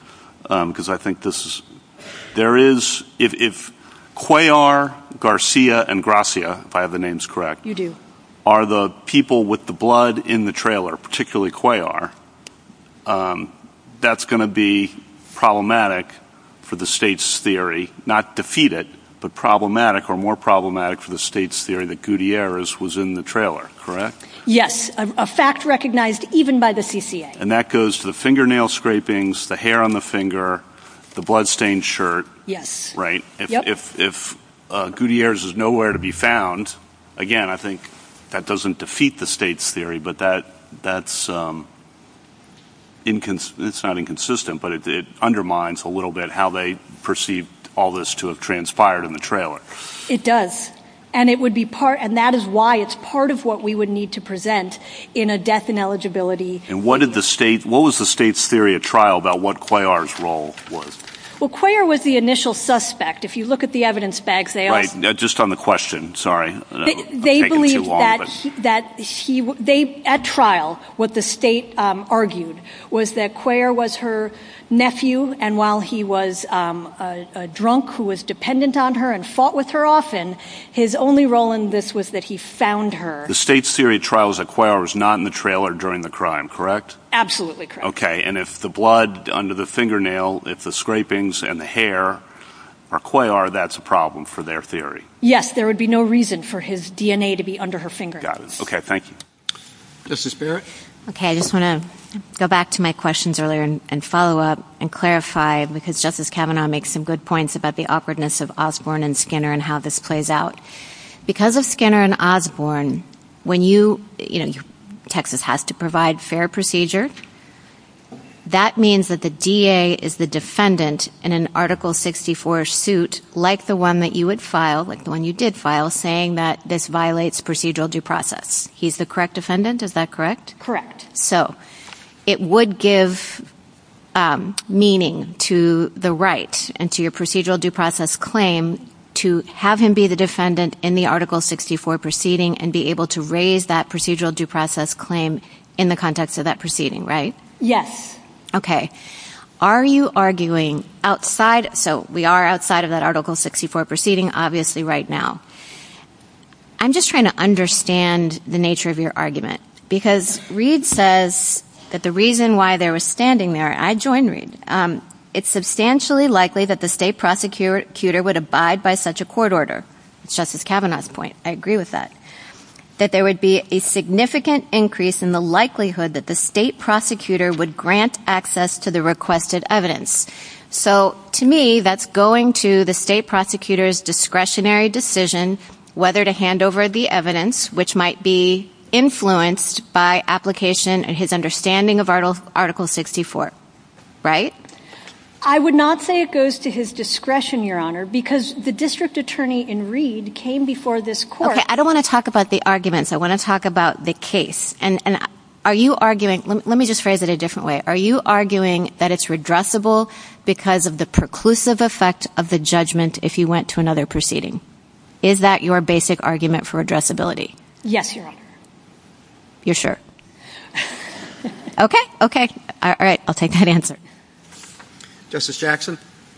because I think this is, there is, if Cuellar, Garcia, and Gracia, if I have the names correct, are the people with the blood in the trailer, particularly Cuellar, that's going to be problematic for the state's theory, not defeat it, but problematic or more problematic for the state's theory that Gutierrez was in the trailer, correct? Yes, a fact recognized even by the CCA. And that goes to the fingernail scrapings, the hair on the finger, the blood-stained shirt. Yes. Right? If Gutierrez is nowhere to be found, again, I think that doesn't defeat the state's theory, but that's, it's not inconsistent, but it undermines a little bit how they perceive all this to have transpired in the trailer. It does. And it would be part, and that is why it's part of what we would need to present in a death ineligibility. And what did the state, what was the state's theory at trial about what Cuellar's role was? Well, Cuellar was the initial suspect. If you look at the evidence bags, they all. Right, just on the question, sorry. They believe that he, at trial, what the state argued was that Cuellar was her nephew, and while he was a drunk who was dependent on her and fought with her often, his only role in this was that he found her. The state's theory at trial is that Cuellar was not in the trailer during the crime, correct? Absolutely correct. Okay, and if the blood under the fingernail, if the scrapings and the hair are Cuellar, that's a problem for their theory. Yes, there would be no reason for his DNA to be under her fingernail. Got it. Okay, thank you. Justice Barrett? Okay, I just want to go back to my questions earlier and follow up and clarify, because Justice Kavanaugh makes some good points about the awkwardness of Osborne and Skinner and how this plays out. Because of Skinner and Osborne, when you, you know, Texas has to provide fair procedure, that means that the DA is the defendant in an Article 64 suit like the one that you would file, like the one you did file, saying that this violates procedural due process. He's the correct defendant, is that correct? So it would give meaning to the right and to your procedural due process claim to have him be the defendant in the Article 64 proceeding and be able to raise that procedural due process claim in the context of that proceeding, right? Yes. Okay. Are you arguing outside, so we are outside of that Article 64 proceeding, obviously, right now. I'm just trying to understand the nature of your argument, because Reed says that the reason why they were standing there, I join Reed, it's substantially likely that the state prosecutor would abide by such a court order. Justice Kavanaugh's point, I agree with that. That there would be a significant increase in the likelihood that the state prosecutor would grant access to the requested evidence. So, to me, that's going to the state prosecutor's discretionary decision whether to hand over the evidence, which might be influenced by application and his understanding of Article 64, right? I would not say it goes to his discretion, Your Honor, because the district attorney in Reed came before this court. Okay. I don't want to talk about the arguments. I want to talk about the case. And are you arguing, let me just phrase it a different way. Are you arguing that it's redressable because of the preclusive effect of the judgment if he went to another proceeding? Is that your basic argument for redressability? Yes, Your Honor. You're sure? Okay. Okay. All right. I'll take that answer. Justice Jackson?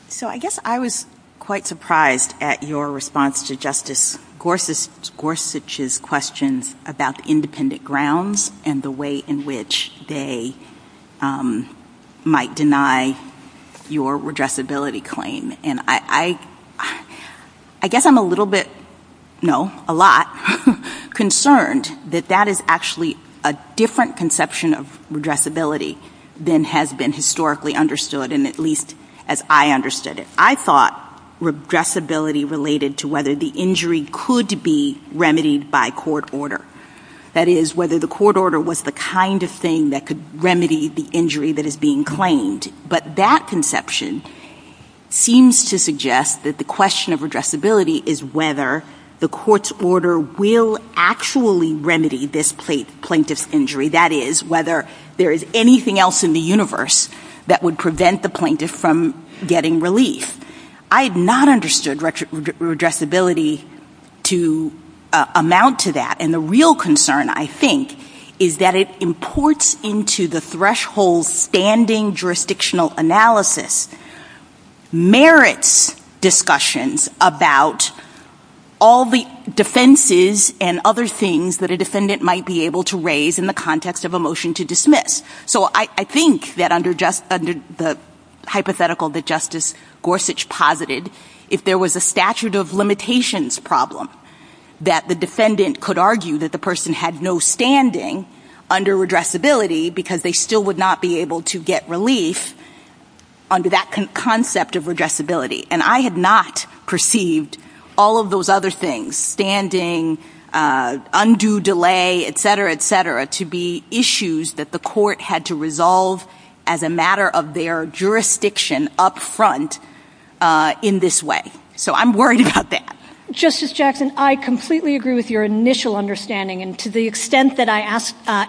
So, I guess I was quite surprised at your response to Justice Gorsuch's questions about the independent grounds and the way in which they might deny your redressability claim. And I guess I'm a little bit, no, a lot concerned that that is actually a different conception of redressability than has been historically understood, and at least as I understood it. I thought redressability related to whether the injury could be remedied by court order. That is, whether the court order was the kind of thing that could remedy the injury that is being claimed. But that conception seems to suggest that the question of redressability is whether the court's order will actually remedy this plaintiff's injury. That is, whether there is anything else in the universe that would prevent the plaintiff from getting relief. I have not understood redressability to amount to that. And the real concern, I think, is that it imports into the threshold standing jurisdictional analysis merits discussions about all the defenses and other things that a defendant might be able to raise in the context of a motion to dismiss. So I think that under the hypothetical that Justice Gorsuch posited, if there was a statute of limitations problem, that the defendant could argue that the person had no standing under redressability because they still would not be able to get relief under that concept of redressability. And I had not perceived all of those other things, standing, undue delay, etc., etc., to be issues that the court had to resolve as a matter of their jurisdiction up front in this way. So I'm worried about that. Justice Jackson, I completely agree with your initial understanding. And to the extent that I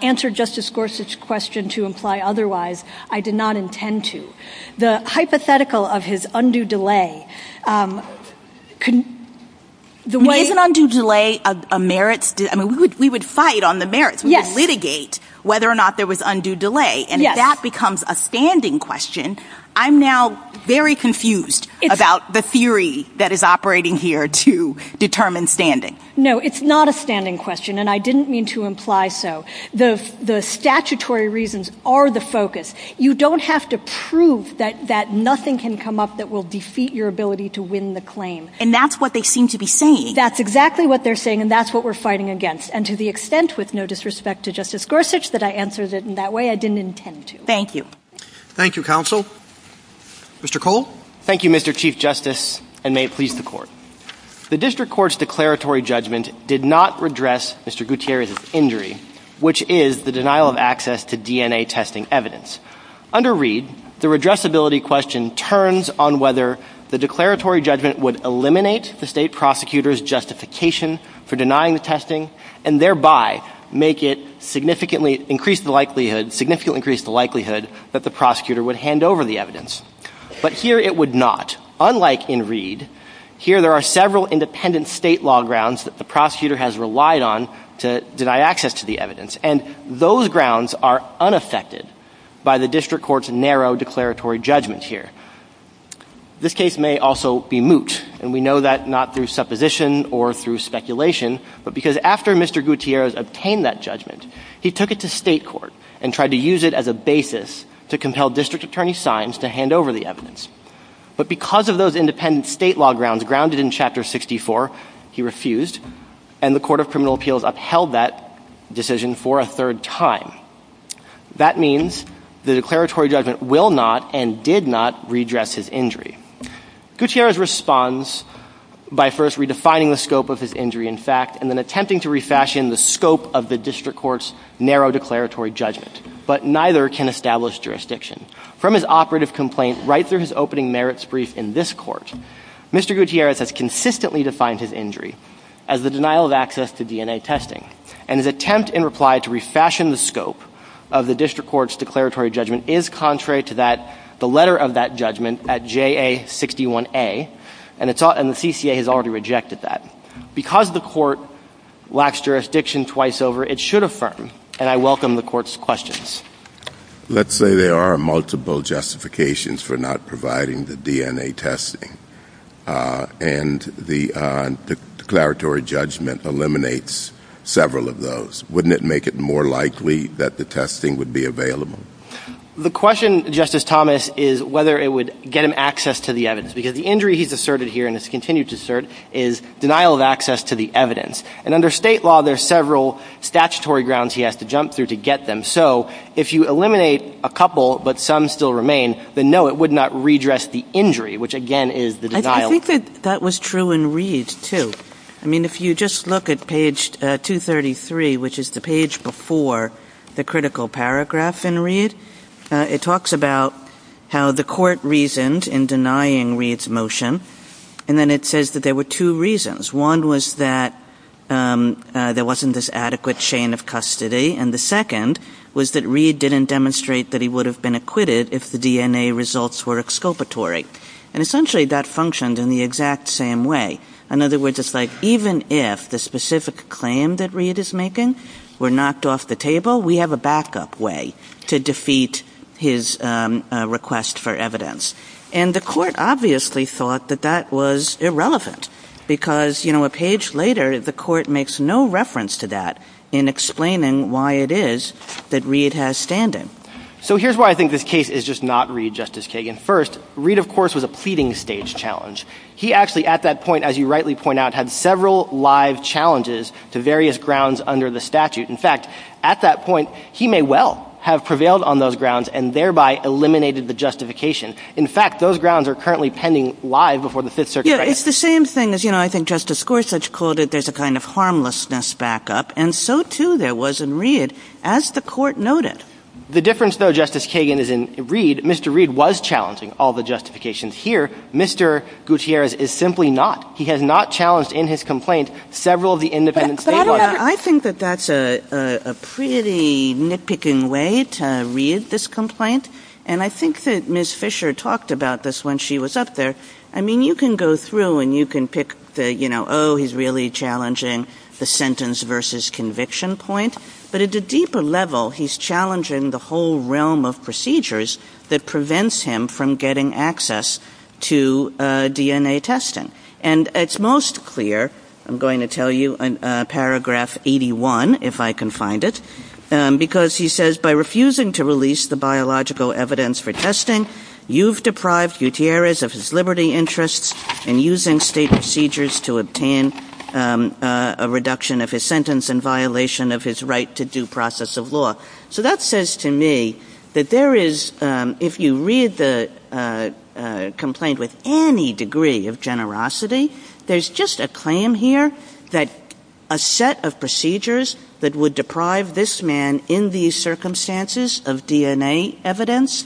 answered Justice Gorsuch's question to imply otherwise, I did not intend to. The hypothetical of his undue delay, the way- Is an undue delay a merit? I mean, we would fight on the merits. We would litigate whether or not there was undue delay. And if that becomes a standing question, I'm now very confused about the theory that is operating here to determine standing. No, it's not a standing question, and I didn't mean to imply so. The statutory reasons are the focus. You don't have to prove that nothing can come up that will defeat your ability to win the claim. And that's what they seem to be saying. That's exactly what they're saying, and that's what we're fighting against. And to the extent, with no disrespect to Justice Gorsuch, that I answered it in that way, I didn't intend to. Thank you. Thank you, Counsel. Mr. Cole? Thank you, Mr. Chief Justice, and may it please the Court. The district court's declaratory judgment did not redress Mr. Gutierrez's injury, which is the denial of access to DNA testing evidence. Under Reed, the redressability question turns on whether the declaratory judgment would eliminate the state prosecutor's justification for denying the testing and thereby make it significantly increase the likelihood that the prosecutor would hand over the evidence. But here it would not. Unlike in Reed, here there are several independent state law grounds that the prosecutor has relied on to deny access to the evidence, and those grounds are unaffected by the district court's narrow declaratory judgment here. This case may also be moot, and we know that not through supposition or through speculation, but because after Mr. Gutierrez obtained that judgment, he took it to state court and tried to use it as a basis to compel district attorney Sines to hand over the evidence. But because of those independent state law grounds grounded in Chapter 64, he refused, and the Court of Criminal Appeals upheld that decision for a third time. That means the declaratory judgment will not and did not redress his injury. Gutierrez responds by first redefining the scope of his injury in fact and then attempting to refashion the scope of the district court's narrow declaratory judgment, but neither can establish jurisdiction. From his operative complaint right through his opening merits brief in this court, Mr. Gutierrez has consistently defined his injury as the denial of access to DNA testing, and his attempt in reply to refashion the scope of the district court's declaratory judgment is contrary to the letter of that judgment at JA-61A, and the CCA has already rejected that. Because the court lacks jurisdiction twice over, it should affirm, and I welcome the court's questions. Let's say there are multiple justifications for not providing the DNA testing, and the declaratory judgment eliminates several of those. Wouldn't it make it more likely that the testing would be available? The question, Justice Thomas, is whether it would get him access to the evidence, because the injury he's asserted here and has continued to assert is denial of access to the evidence. And under state law, there are several statutory grounds he has to jump through to get them. So if you eliminate a couple, but some still remain, then, no, it would not redress the injury, which, again, is the denial. I think that that was true in Reed's, too. I mean, if you just look at page 233, which is the page before the critical paragraph in Reed, it talks about how the court reasoned in denying Reed's motion, and then it says that there were two reasons. One was that there wasn't this adequate chain of custody, and the second was that Reed didn't demonstrate that he would have been acquitted if the DNA results were exculpatory. And essentially that functioned in the exact same way. In other words, it's like even if the specific claim that Reed is making were knocked off the table, we have a backup way to defeat his request for evidence. And the court obviously thought that that was irrelevant, because, you know, a page later, the court makes no reference to that in explaining why it is that Reed has stand-in. So here's why I think this case is just not Reed, Justice Kagan. First, Reed, of course, was a pleading stage challenge. He actually, at that point, as you rightly point out, had several live challenges to various grounds under the statute. In fact, at that point, he may well have prevailed on those grounds and thereby eliminated the justification. In fact, those grounds are currently pending live before the Fifth Circuit. Yeah, it's the same thing as, you know, I think Justice Gorsuch called it, there's a kind of harmlessness backup. And so, too, there was in Reed, as the court noted. The difference, though, Justice Kagan, is in Reed. Mr. Reed was challenging all the justifications here. Mr. Gutierrez is simply not. He has not challenged in his complaint several of the independent statements. I think that that's a pretty nitpicking way to read this complaint. And I think that Ms. Fisher talked about this when she was up there. I mean, you can go through and you can pick the, you know, oh, he's really challenging the sentence versus conviction point. But at a deeper level, he's challenging the whole realm of procedures that prevents him from getting access to DNA testing. And it's most clear, I'm going to tell you, in paragraph 81, if I can find it, because he says, by refusing to release the biological evidence for testing, you've deprived Gutierrez of his liberty interests and using state procedures to obtain a reduction of his sentence in violation of his right to due process of law. So that says to me that there is, if you read the complaint with any degree of generosity, there's just a claim here that a set of procedures that would deprive this man in these circumstances of DNA evidence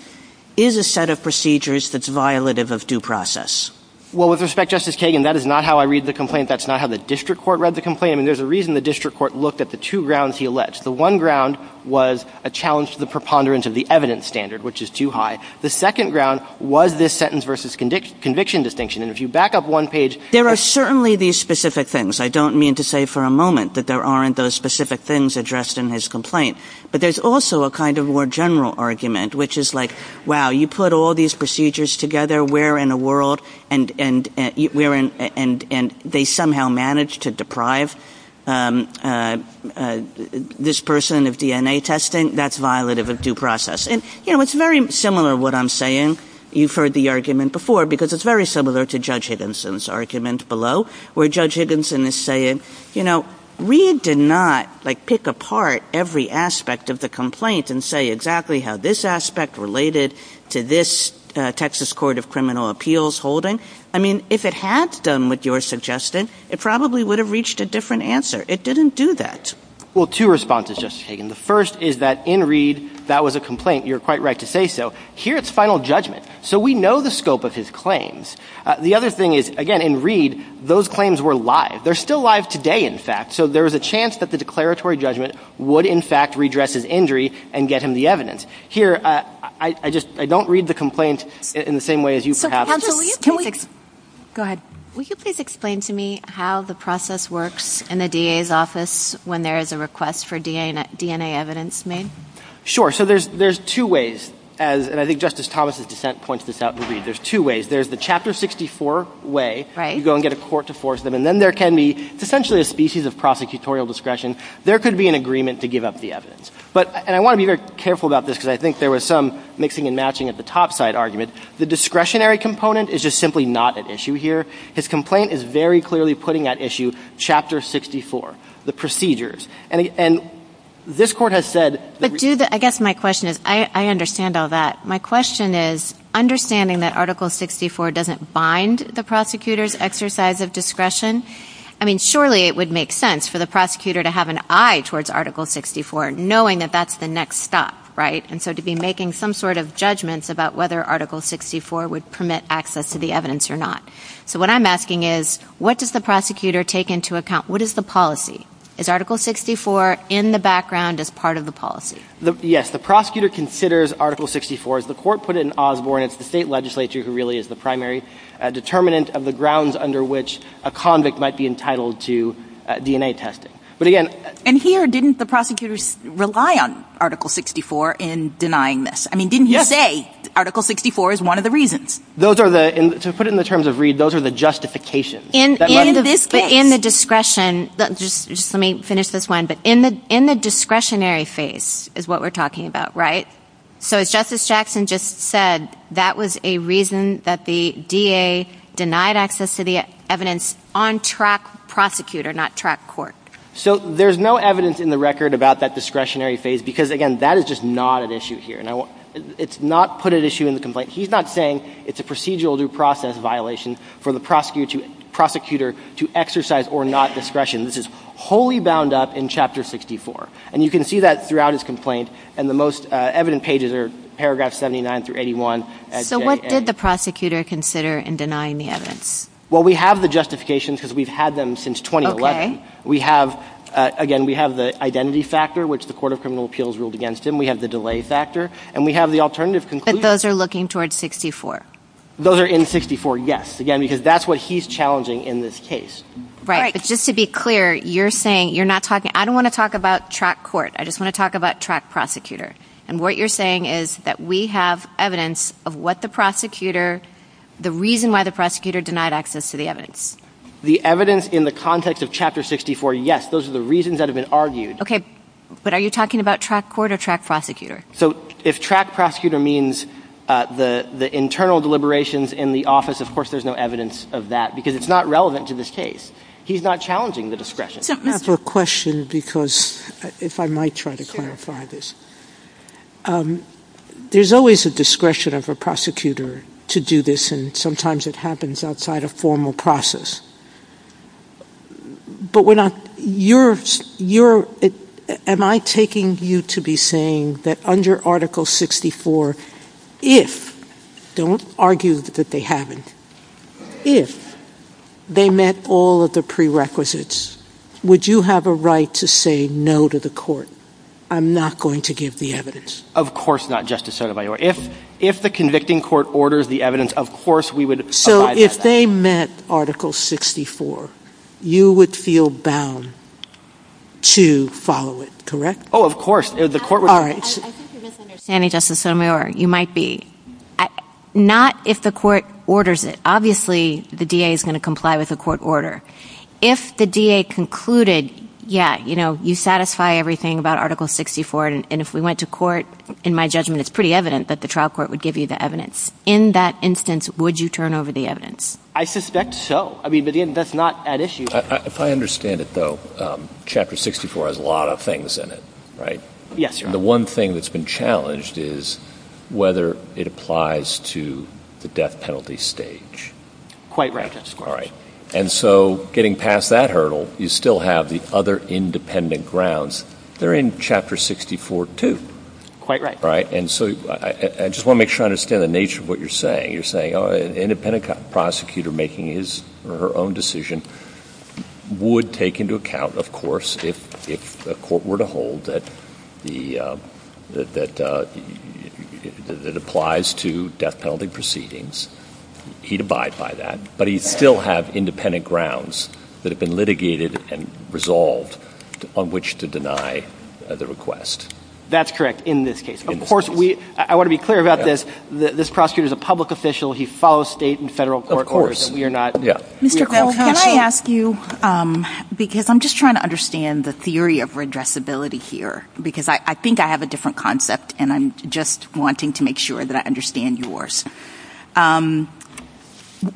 is a set of procedures that's violative of due process. Well, with respect, Justice Kagan, that is not how I read the complaint. That's not how the district court read the complaint. I mean, there's a reason the district court looked at the two grounds he alleged. The one ground was a challenge to the preponderance of the evidence standard, which is too high. The second ground was this sentence versus conviction distinction. There are certainly these specific things. I don't mean to say for a moment that there aren't those specific things addressed in his complaint. But there's also a kind of more general argument, which is like, wow, you put all these procedures together, where in the world, and they somehow manage to deprive this person of DNA testing? That's violative of due process. And, you know, it's very similar to what I'm saying. You've heard the argument before, because it's very similar to Judge Higginson's argument below, where Judge Higginson is saying, you know, Reed did not, like, pick apart every aspect of the complaint and say exactly how this aspect related to this Texas Court of Criminal Appeals holding. I mean, if it had done what you're suggesting, it probably would have reached a different answer. It didn't do that. Well, two responses, Justice Kagan. The first is that in Reed, that was a complaint. You're quite right to say so. Here, it's final judgment. So we know the scope of his claims. The other thing is, again, in Reed, those claims were live. They're still live today, in fact. So there's a chance that the declaratory judgment would, in fact, redress his injury and get him the evidence. Here, I just don't read the complaint in the same way as you perhaps. Go ahead. Will you please explain to me how the process works in the DA's office when there is a request for DNA evidence made? Sure. So there's two ways. And I think Justice Thomas' dissent points this out in Reed. There's two ways. There's the Chapter 64 way. Right. You go and get a court to force them. And then there can be essentially a species of prosecutorial discretion. There could be an agreement to give up the evidence. And I want to be very careful about this because I think there was some mixing and matching at the top side argument. The discretionary component is just simply not at issue here. His complaint is very clearly putting at issue Chapter 64, the procedures. And this court has said. I guess my question is, I understand all that. My question is, understanding that Article 64 doesn't bind the prosecutor's exercise of discretion, I mean, surely it would make sense for the prosecutor to have an eye towards Article 64, knowing that that's the next step, right? And so to be making some sort of judgments about whether Article 64 would permit access to the evidence or not. So what I'm asking is, what does the prosecutor take into account? What is the policy? Is Article 64 in the background as part of the policy? Yes. The prosecutor considers Article 64, as the court put it in Osborne, it's the state legislature who really is the primary determinant of the grounds under which a convict might be entitled to DNA testing. But again. And here, didn't the prosecutors rely on Article 64 in denying this? I mean, didn't you say Article 64 is one of the reasons? Those are the, to put it in the terms of Reed, those are the justifications. In the discretion, just let me finish this line, but in the discretionary phase is what we're talking about, right? So Justice Jackson just said that was a reason that the DA denied access to the evidence on track prosecutor, not track court. So there's no evidence in the record about that discretionary phase because, again, that is just not an issue here. It's not put at issue in the complaint. He's not saying it's a procedural due process violation for the prosecutor to exercise or not discretion. This is wholly bound up in Chapter 64. And you can see that throughout his complaint. And the most evident pages are paragraphs 79 through 81. So what did the prosecutor consider in denying the evidence? Well, we have the justifications because we've had them since 2011. We have, again, we have the identity factor, which the Court of Criminal Appeals ruled against him. We have the delay factor. And we have the alternative conclusion. So those are looking towards 64? Those are in 64, yes. Again, because that's what he's challenging in this case. Right, but just to be clear, you're saying, you're not talking, I don't want to talk about track court. I just want to talk about track prosecutor. And what you're saying is that we have evidence of what the prosecutor, the reason why the prosecutor denied access to the evidence. The evidence in the context of Chapter 64, yes, those are the reasons that have been argued. Okay, but are you talking about track court or track prosecutor? So if track prosecutor means the internal deliberations in the office, of course there's no evidence of that because it's not relevant to this case. He's not challenging the discretion. I have a question because, if I might try to clarify this, there's always a discretion of a prosecutor to do this, and sometimes it happens outside of formal process. But when I'm, you're, am I taking you to be saying that under Article 64, if, don't argue that they haven't, if they met all of the prerequisites, would you have a right to say no to the court? I'm not going to give the evidence. Of course not, Justice Sotomayor. If the convicting court orders the evidence, of course we would abide by that. So if they met Article 64, you would feel bound to follow it, correct? Oh, of course. All right. I think you're misunderstanding, Justice Sotomayor. You might be. Not if the court orders it. Obviously the DA is going to comply with a court order. If the DA concluded, yeah, you know, you satisfy everything about Article 64, and if we went to court, in my judgment, it's pretty evident that the trial court would give you the evidence. In that instance, would you turn over the evidence? I suspect so. I mean, that's not at issue. If I understand it, though, Chapter 64 has a lot of things in it, right? Yes, Your Honor. The one thing that's been challenged is whether it applies to the death penalty stage. Quite right, Justice Garland. All right. And so getting past that hurdle, you still have the other independent grounds. They're in Chapter 64 too. Quite right. All right, and so I just want to make sure I understand the nature of what you're saying. You're saying an independent prosecutor making his or her own decision would take into account, of course, if the court were to hold that it applies to death penalty proceedings, he'd abide by that, but he'd still have independent grounds that have been litigated and resolved upon which to deny the request. That's correct in this case. Of course. I want to be clear about this. This prosecutor is a public official. He follows state and federal court orders. Mr. Garland, can I ask you, because I'm just trying to understand the theory of redressability here, because I think I have a different concept, and I'm just wanting to make sure that I understand yours.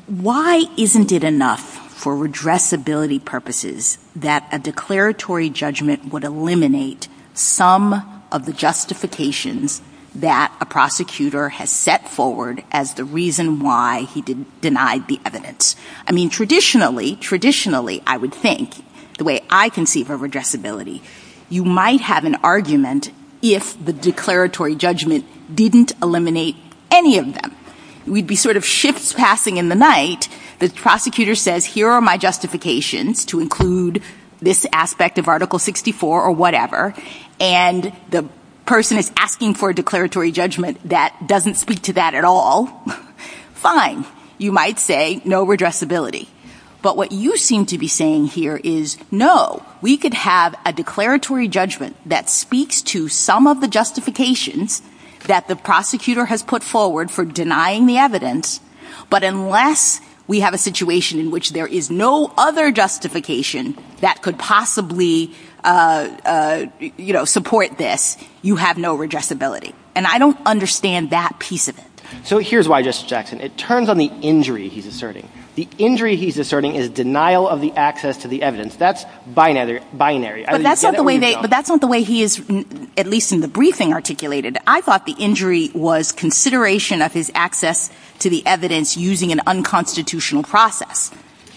Why isn't it enough for redressability purposes that a declaratory judgment would eliminate some of the justifications that a prosecutor has set forward as the reason why he denied the evidence? I mean, traditionally, traditionally, I would think, the way I conceive of redressability, you might have an argument if the declaratory judgment didn't eliminate any of them. We'd be sort of ships passing in the night. The prosecutor says, here are my justifications to include this aspect of Article 64 or whatever, and the person is asking for a declaratory judgment that doesn't speak to that at all. Fine. You might say, no redressability. But what you seem to be saying here is, no, we could have a declaratory judgment that speaks to some of the justifications that the prosecutor has put forward for denying the evidence, but unless we have a situation in which there is no other justification that could possibly support this, you have no redressability. And I don't understand that piece of it. So here's why, Justice Jackson. It turns on the injury he's asserting. The injury he's asserting is denial of the access to the evidence. That's binary. But that's not the way he is, at least in the briefing, articulated. I thought the injury was consideration of his access to the evidence using an unconstitutional process.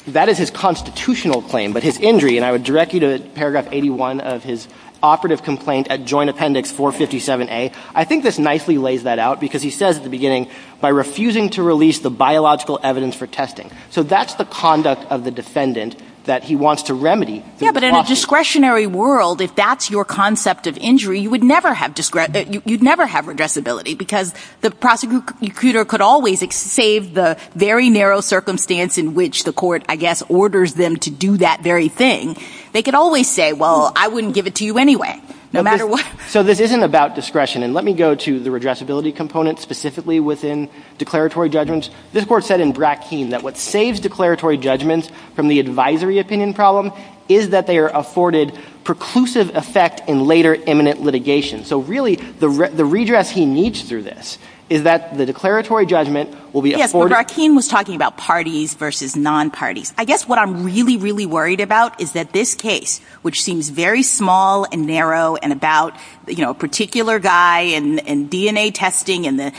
That is his constitutional claim. But his injury, and I would direct you to Paragraph 81 of his operative complaint at Joint Appendix 457A, I think this nicely lays that out because he says at the beginning, by refusing to release the biological evidence for testing. So that's the conduct of the defendant that he wants to remedy. Yeah, but in a discretionary world, if that's your concept of injury, you would never have redressability because the prosecutor could always save the very narrow circumstance in which the court, I guess, orders them to do that very thing. They could always say, well, I wouldn't give it to you anyway, no matter what. So this isn't about discretion. And let me go to the redressability component specifically within declaratory judgments. This court said in Brackeen that what saves declaratory judgments from the advisory opinion problem is that they are afforded preclusive effect in later imminent litigation. So really, the redress he needs through this is that the declaratory judgment will be afforded. Yes, but Brackeen was talking about parties versus non-parties. I guess what I'm really, really worried about is that this case, which seems very small and narrow and about a particular guy and DNA testing and the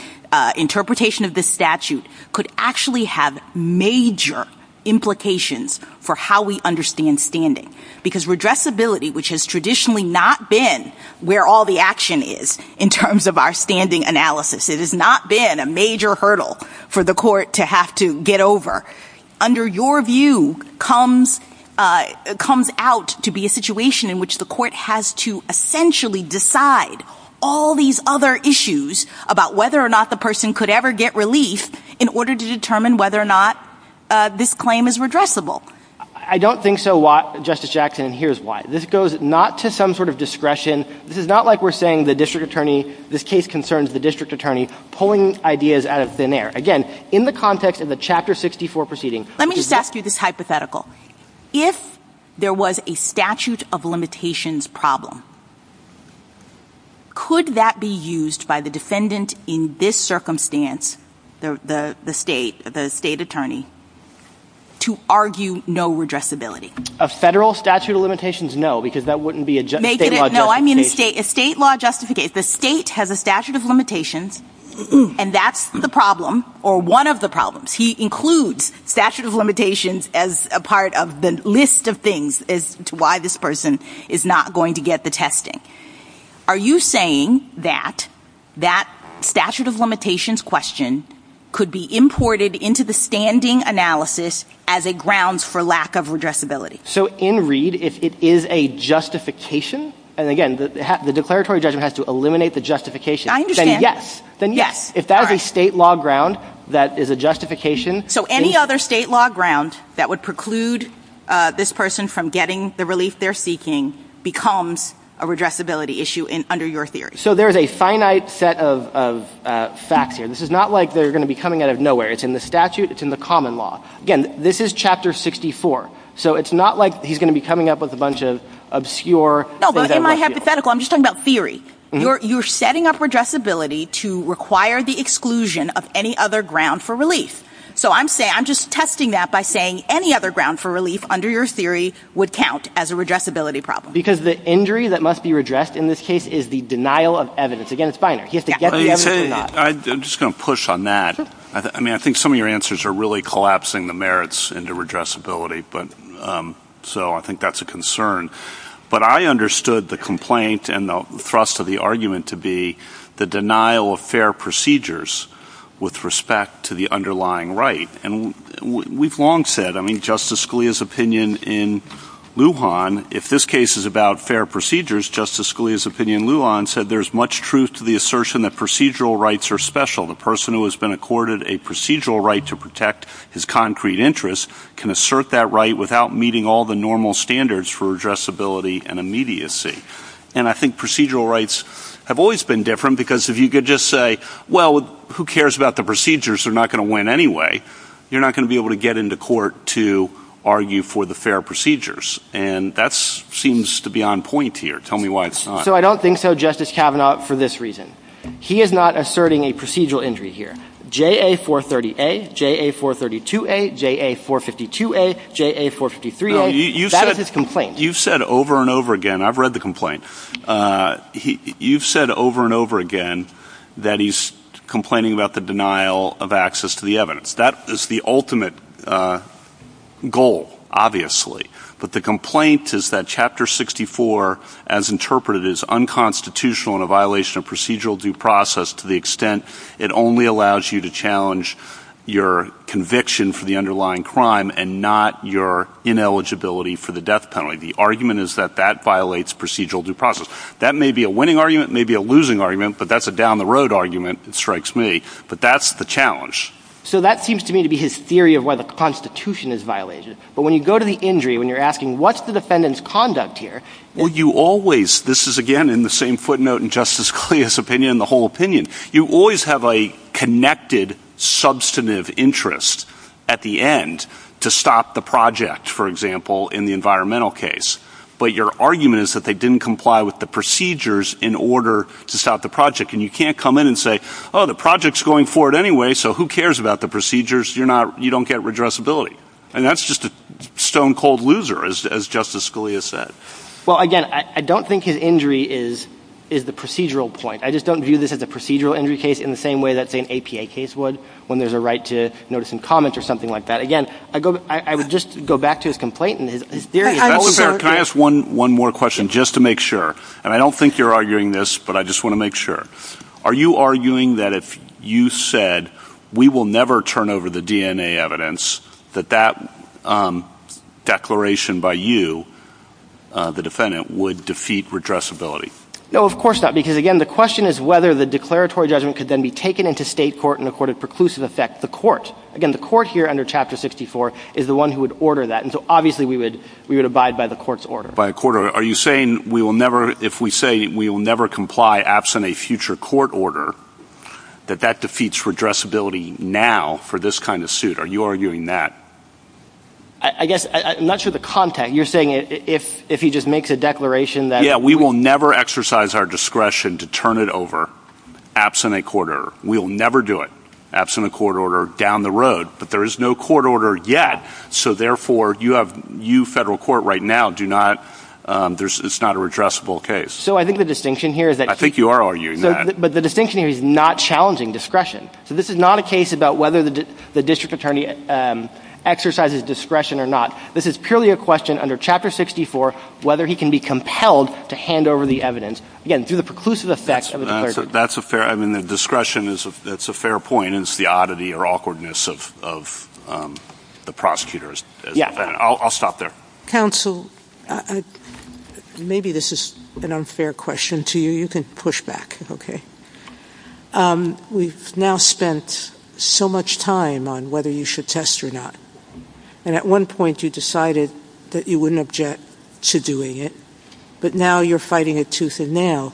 interpretation of the statute could actually have major implications for how we understand standing because redressability, which has traditionally not been where all the action is in terms of our standing analysis, it has not been a major hurdle for the court to have to get over, under your view comes out to be a situation in which the court has to essentially decide all these other issues about whether or not the person could ever get relief in order to determine whether or not this claim is redressable. I don't think so, Justice Jackson, and here's why. This goes not to some sort of discretion. This is not like we're saying the district attorney, this case concerns the district attorney, pulling ideas out of thin air. Again, in the context of the Chapter 64 proceeding. Let me just ask you this hypothetical. If there was a statute of limitations problem, could that be used by the defendant in this circumstance, the state attorney, to argue no redressability? A federal statute of limitations? No, because that wouldn't be a state law justification. No, I mean a state law justification. Okay, if the state has a statute of limitations, and that's the problem, or one of the problems, he includes statute of limitations as a part of the list of things as to why this person is not going to get the testing. Are you saying that that statute of limitations question could be imported into the standing analysis as a grounds for lack of redressability? So in Reed, if it is a justification, and again, the declaratory judgment has to eliminate the justification. I understand. Then yes. If that was a state law ground that is a justification. So any other state law ground that would preclude this person from getting the relief they're seeking becomes a redressability issue under your theory. So there's a finite set of facts here. This is not like they're going to be coming out of nowhere. It's in the statute. It's in the common law. Again, this is Chapter 64. So it's not like he's going to be coming up with a bunch of obscure. No, but in my hypothetical, I'm just talking about theory. You're setting up redressability to require the exclusion of any other ground for relief. So I'm just testing that by saying any other ground for relief under your theory would count as a redressability problem. Because the injury that must be redressed in this case is the denial of evidence. Again, it's binary. He has to get the evidence or not. I'm just going to push on that. I mean, I think some of your answers are really collapsing the merits into redressability, so I think that's a concern. But I understood the complaint and the thrust of the argument to be the denial of fair procedures with respect to the underlying right. And we've long said, I mean, Justice Scalia's opinion in Lujan, if this case is about fair procedures, Justice Scalia's opinion in Lujan said there's much truth to the assertion that procedural rights are special. The person who has been accorded a procedural right to protect his concrete interests can assert that right without meeting all the normal standards for redressability and immediacy. And I think procedural rights have always been different because if you could just say, well, who cares about the procedures, they're not going to win anyway, you're not going to be able to get into court to argue for the fair procedures. And that seems to be on point here. Tell me why it's not. So I don't think so, Justice Kavanaugh, for this reason. He is not asserting a procedural injury here. J.A. 430-A, J.A. 432-A, J.A. 452-A, J.A. 453-A, that is his complaint. You've said over and over again, I've read the complaint, you've said over and over again that he's complaining about the denial of access to the evidence. That is the ultimate goal, obviously. But the complaint is that Chapter 64, as interpreted, is unconstitutional in a violation of procedural due process to the extent it only allows you to challenge your conviction for the underlying crime and not your ineligibility for the death penalty. The argument is that that violates procedural due process. That may be a winning argument, it may be a losing argument, but that's a down-the-road argument, it strikes me, but that's the challenge. So that seems to me to be his theory of why the Constitution is violated. But when you go to the injury, when you're asking, what's the defendant's conduct here? Or you always, this is again in the same footnote in Justice Scalia's opinion, the whole opinion, you always have a connected, substantive interest at the end to stop the project, for example, in the environmental case. But your argument is that they didn't comply with the procedures in order to stop the project. And you can't come in and say, oh, the project's going forward anyway, so who cares about the procedures, you don't get redressability. And that's just a stone-cold loser, as Justice Scalia said. Well, again, I don't think his injury is the procedural point. I just don't view this as a procedural injury case in the same way that, say, an APA case would, when there's a right to notice and comment or something like that. Again, I would just go back to his complaint and his theory is always there. Can I ask one more question, just to make sure? And I don't think you're arguing this, but I just want to make sure. Are you arguing that if you said we will never turn over the DNA evidence, that that declaration by you, the defendant, would defeat redressability? No, of course not, because, again, the question is whether the declaratory judgment could then be taken into state court and accorded preclusive effect to the court. Again, the court here under Chapter 64 is the one who would order that, and so obviously we would abide by the court's order. Are you saying if we say we will never comply absent a future court order, that that defeats redressability now for this kind of suit? Are you arguing that? I guess I'm not sure of the context. You're saying if he just makes a declaration that— Yeah, we will never exercise our discretion to turn it over absent a court order. We will never do it absent a court order down the road, but there is no court order yet, so therefore you federal court right now do not—it's not a redressable case. So I think the distinction here is that— I think you are arguing that. But the distinction here is not challenging discretion. So this is not a case about whether the district attorney exercises discretion or not. This is purely a question under Chapter 64 whether he can be compelled to hand over the evidence, again, through the preclusive effects of the declaration. That's a fair—I mean, the discretion is a fair point. It's the oddity or awkwardness of the prosecutors. I'll stop there. Counsel, maybe this is an unfair question to you. You can push back, okay? We've now spent so much time on whether you should test or not, and at one point you decided that you wouldn't object to doing it, but now you're fighting a tooth and nail.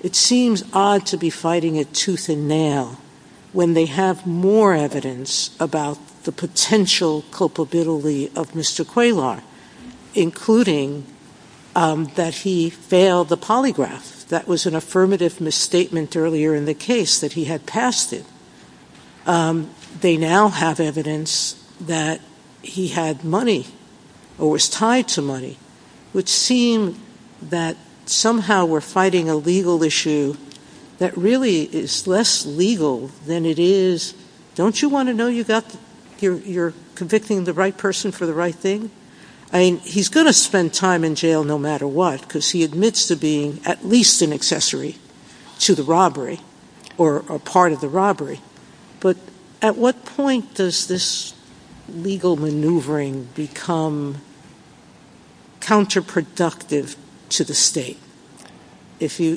It seems odd to be fighting a tooth and nail when they have more evidence about the potential culpability of Mr. Quaylaw, including that he failed the polygraph. That was an affirmative misstatement earlier in the case that he had passed it. They now have evidence that he had money or was tied to money, which seems that somehow we're fighting a legal issue that really is less legal than it is— don't you want to know you're convicting the right person for the right thing? I mean, he's going to spend time in jail no matter what because he admits to being at least an accessory to the robbery or a part of the robbery, but at what point does this legal maneuvering become counterproductive to the state? If you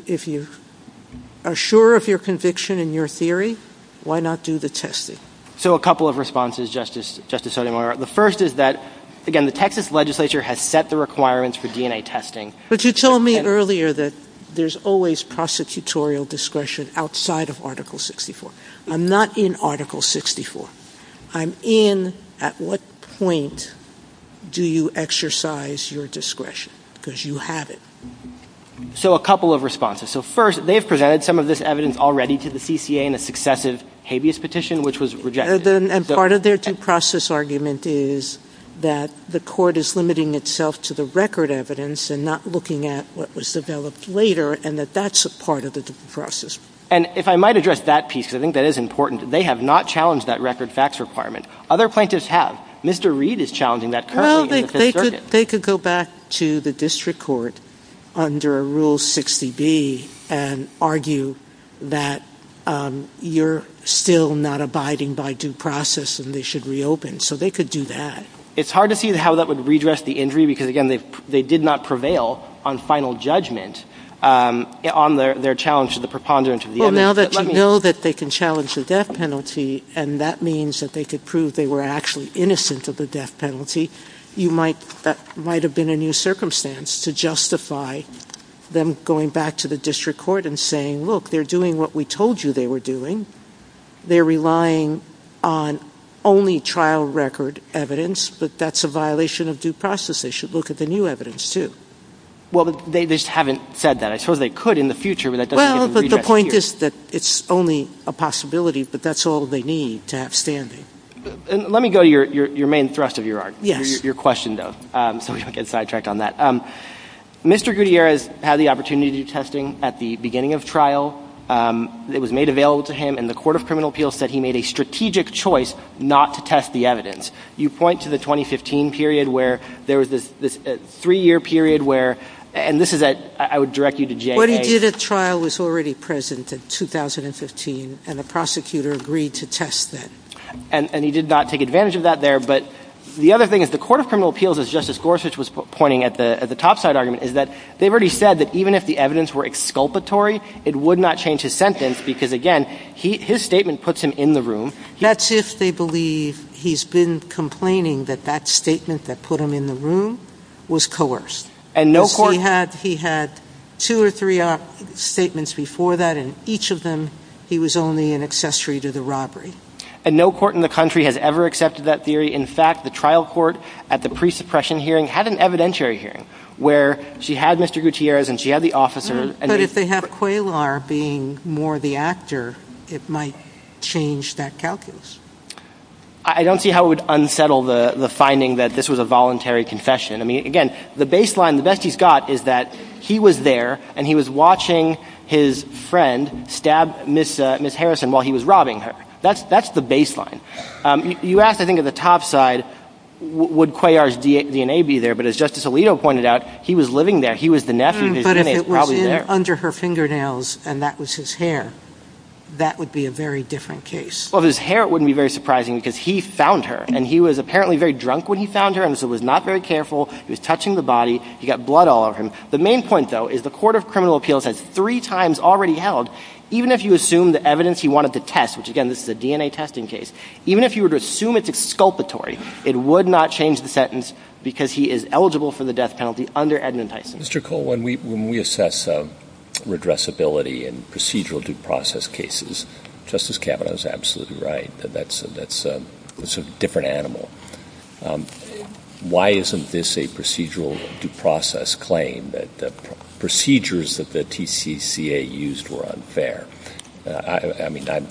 are sure of your conviction and your theory, why not do the testing? So a couple of responses, Justice Sotomayor. The first is that, again, the Texas legislature has set the requirements for DNA testing. But you told me earlier that there's always prosecutorial discretion outside of Article 64. I'm not in Article 64. I'm in at what point do you exercise your discretion? Because you have it. So a couple of responses. So first, they've presented some of this evidence already to the CCA in a successive habeas petition, which was rejected. And part of their due process argument is that the court is limiting itself to the record evidence and not looking at what was developed later and that that's a part of the due process. And if I might address that piece, I think that is important. They have not challenged that record facts requirement. Other plaintiffs have. Mr. Reed is challenging that currently. Well, they could go back to the district court under Rule 60B and argue that you're still not abiding by due process and they should reopen. So they could do that. It's hard to see how that would redress the injury because, again, they did not prevail on final judgment on their challenge to the preponderance of the evidence. Well, now that you know that they can challenge the death penalty and that means that they could prove they were actually innocent of the death penalty, that might have been a new circumstance to justify them going back to the district court and saying, look, they're doing what we told you they were doing. They're relying on only trial record evidence, but that's a violation of due process. They should look at the new evidence, too. Well, they just haven't said that. I suppose they could in the future, but that doesn't mean they can redress the injury. Well, but the point is that it's only a possibility, but that's all they need to have standing. Let me go to your main thrust of your argument, your question, though, so we don't get sidetracked on that. Mr. Gutierrez had the opportunity to do testing at the beginning of trial. It was made available to him, and the Court of Criminal Appeals said he made a strategic choice not to test the evidence. You point to the 2015 period where there was this three-year period where – and this is at – I would direct you to J.A. What he did at trial was already present in 2015, and the prosecutor agreed to test that. And he did not take advantage of that there. But the other thing is the Court of Criminal Appeals, as Justice Gorsuch was pointing at the topside argument, is that they've already said that even if the evidence were exculpatory, it would not change his sentence because, again, his statement puts him in the room. That's if they believe he's been complaining that that statement that put him in the room was coerced. And no court – He had two or three statements before that, and each of them he was only an accessory to the robbery. And no court in the country has ever accepted that theory. In fact, the trial court at the pre-suppression hearing had an evidentiary hearing where she had Mr. Gutierrez and she had the officer, and – But if they have Qualar being more the actor, it might change that calculus. I don't see how it would unsettle the finding that this was a voluntary confession. I mean, again, the baseline, the best he's got is that he was there, and he was watching his friend stab Ms. Harrison while he was robbing her. That's the baseline. You ask, I think, at the top side, would Qualar's DNA be there? But as Justice Alito pointed out, he was living there. He was the nephew. His DNA is probably there. But if it was under her fingernails and that was his hair, that would be a very different case. Well, if it was his hair, it wouldn't be very surprising because he found her, and he was apparently very drunk when he found her, and so was not very careful. He was touching the body. He got blood all over him. The main point, though, is the Court of Criminal Appeals has three times already held, even if you assume the evidence he wanted to test, which, again, this is a DNA testing case, even if you would assume it's exculpatory, it would not change the sentence because he is eligible for the death penalty under Edmund Tyson. Mr. Cole, when we assess redressability in procedural due process cases, Justice Kavanaugh is absolutely right that that's a different animal. Why isn't this a procedural due process claim that the procedures that the TCCA used were unfair? I mean, I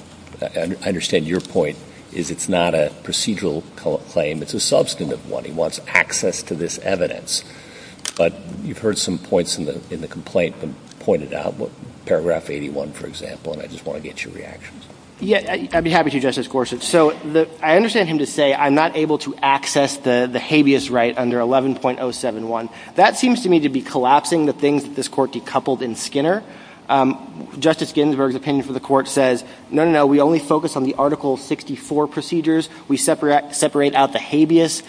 understand your point is it's not a procedural claim. It's a substantive one. He wants access to this evidence. But you've heard some points in the complaint pointed out, paragraph 81, for example, and I just want to get your reactions. Yeah, I'd be happy to, Justice Gorsuch. So I understand him to say I'm not able to access the habeas right under 11.071. That seems to me to be collapsing the things that this court decoupled in Skinner. Justice Ginsburg's opinion for the court says, no, no, no, we only focus on the Article 64 procedures. We separate out the habeas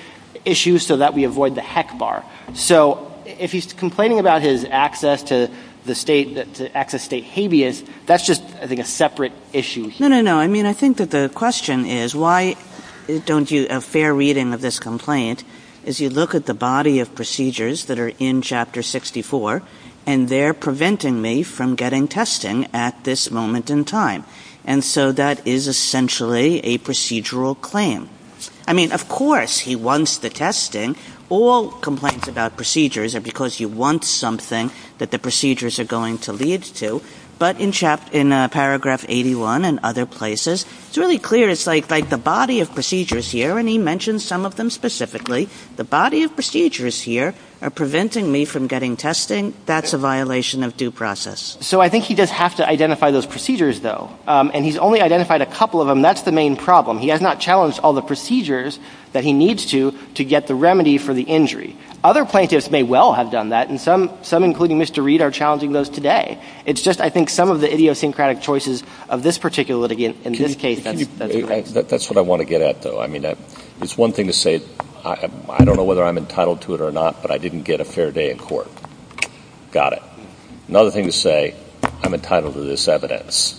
issue so that we avoid the heck bar. So if he's complaining about his access to the state, the access to state habeas, that's just, I think, a separate issue. No, no, no. I mean, I think that the question is why don't you, a fair reading of this complaint, is you look at the body of procedures that are in Chapter 64, and they're preventing me from getting testing at this moment in time. And so that is essentially a procedural claim. I mean, of course he wants the testing. All complaints about procedures are because he wants something that the procedures are going to lead to. But in paragraph 81 and other places, it's really clear. It's like the body of procedures here, and he mentions some of them specifically. The body of procedures here are preventing me from getting testing. That's a violation of due process. So I think he does have to identify those procedures, though. And he's only identified a couple of them. That's the main problem. He has not challenged all the procedures that he needs to to get the remedy for the injury. Other plaintiffs may well have done that, and some, including Mr. Reed, are challenging those today. It's just I think some of the idiosyncratic choices of this particular litigant in this case. That's what I want to get at, though. I mean, it's one thing to say, I don't know whether I'm entitled to it or not, but I didn't get a fair day in court. Got it. Another thing to say, I'm entitled to this evidence.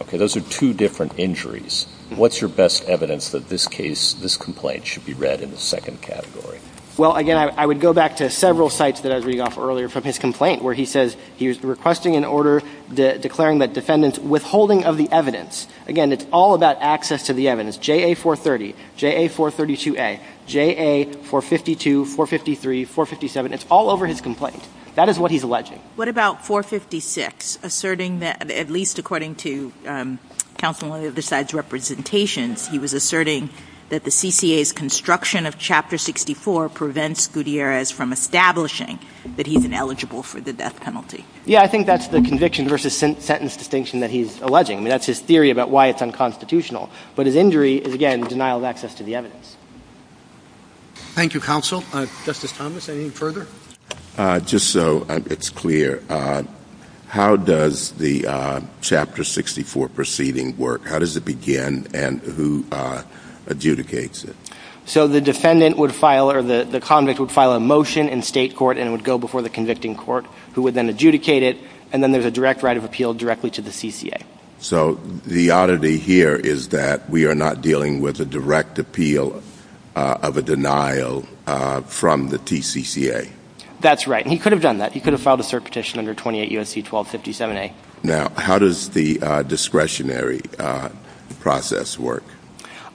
Okay, those are two different injuries. What's your best evidence that this case, this complaint, should be read in the second category? Well, again, I would go back to several sites that I read off earlier from his complaint, where he says he was requesting an order declaring that defendant's withholding of the evidence. Again, it's all about access to the evidence, JA-430, JA-432A, JA-452, 453, 457. It's all over his complaint. That is what he's alleging. What about 456, asserting that, at least according to counsel on the other side's representation, he was asserting that the CCA's construction of Chapter 64 prevents Gutierrez from establishing that he's ineligible for the death penalty? Yeah, I think that's the conviction versus sentence distinction that he's alleging. That's his theory about why it's unconstitutional. But his injury is, again, denial of access to the evidence. Thank you, counsel. Justice Thomas, anything further? Just so it's clear, how does the Chapter 64 proceeding work? How does it begin and who adjudicates it? So the defendant would file or the convict would file a motion in state court and it would go before the convicting court who would then adjudicate it, and then there's a direct right of appeal directly to the CCA. So the oddity here is that we are not dealing with a direct appeal of a denial from the TCCA. That's right, and he could have done that. He could have filed a cert petition under 28 U.S.C. 1257A. Now, how does the discretionary process work?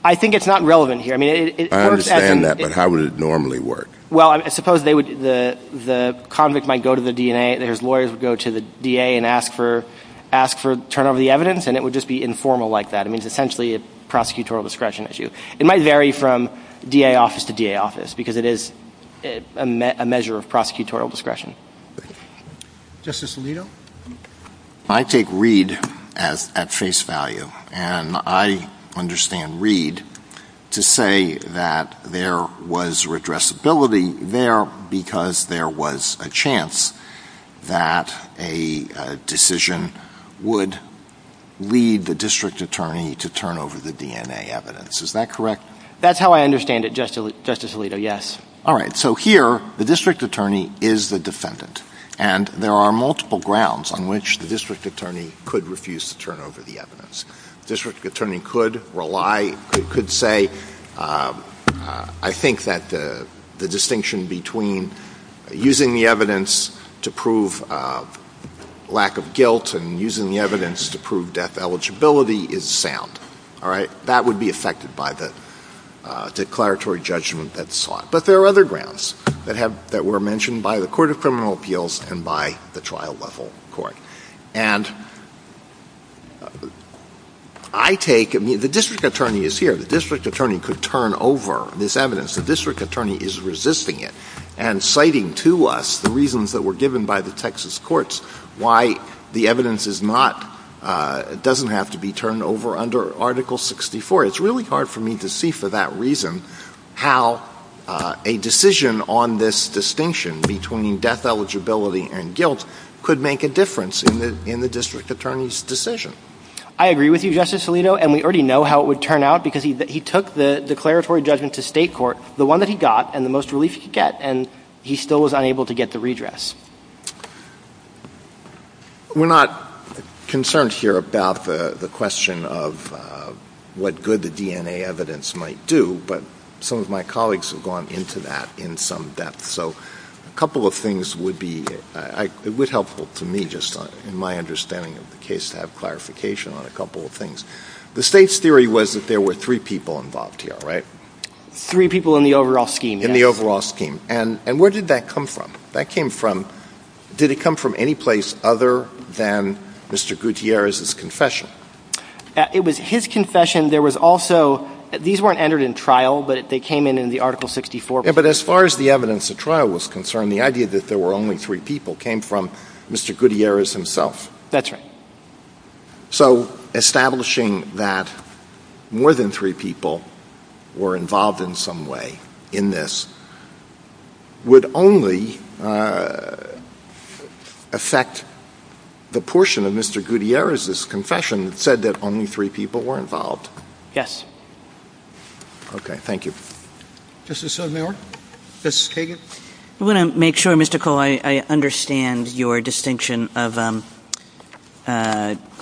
I think it's not relevant here. I understand that, but how would it normally work? Well, I suppose the convict might go to the DA, and his lawyers would go to the DA and ask for turnover of the evidence, and it would just be informal like that. I mean, it's essentially a prosecutorial discretion issue. It might vary from DA office to DA office because it is a measure of prosecutorial discretion. Justice Alito? I take Reid at face value, and I understand Reid to say that there was redressability there because there was a chance that a decision would lead the district attorney to turn over the DNA evidence. Is that correct? That's how I understand it, Justice Alito, yes. All right, so here the district attorney is the defendant, and there are multiple grounds on which the district attorney could refuse to turn over the evidence. The district attorney could say, I think that the distinction between using the evidence to prove lack of guilt and using the evidence to prove death eligibility is sound. All right, that would be affected by the declaratory judgment that's sought. But there are other grounds that were mentioned by the Court of Criminal Appeals and by the trial level court. And I take it, the district attorney is here. The district attorney could turn over this evidence. The district attorney is resisting it and citing to us the reasons that were given by the Texas courts why the evidence doesn't have to be turned over under Article 64. It's really hard for me to see for that reason how a decision on this distinction between death eligibility and guilt could make a difference in the district attorney's decision. I agree with you, Justice Alito, and we already know how it would turn out because he took the declaratory judgment to state court, the one that he got and the most relief he could get, and he still was unable to get the redress. We're not concerned here about the question of what good the DNA evidence might do, but some of my colleagues have gone into that in some depth. So a couple of things would be helpful to me just in my understanding of the case to have clarification on a couple of things. The state's theory was that there were three people involved here, right? Three people in the overall scheme. In the overall scheme. And where did that come from? That came from, did it come from any place other than Mr. Gutierrez's confession? It was his confession. There was also, these weren't entered in trial, but they came in in the Article 64. But as far as the evidence of trial was concerned, the idea that there were only three people came from Mr. Gutierrez himself. That's right. So establishing that more than three people were involved in some way in this would only affect the portion of Mr. Gutierrez's confession that said that only three people were involved. Yes. Okay, thank you. Justice O'Connor? Justice Kagan? I want to make sure, Mr. Cole, I understand your distinction of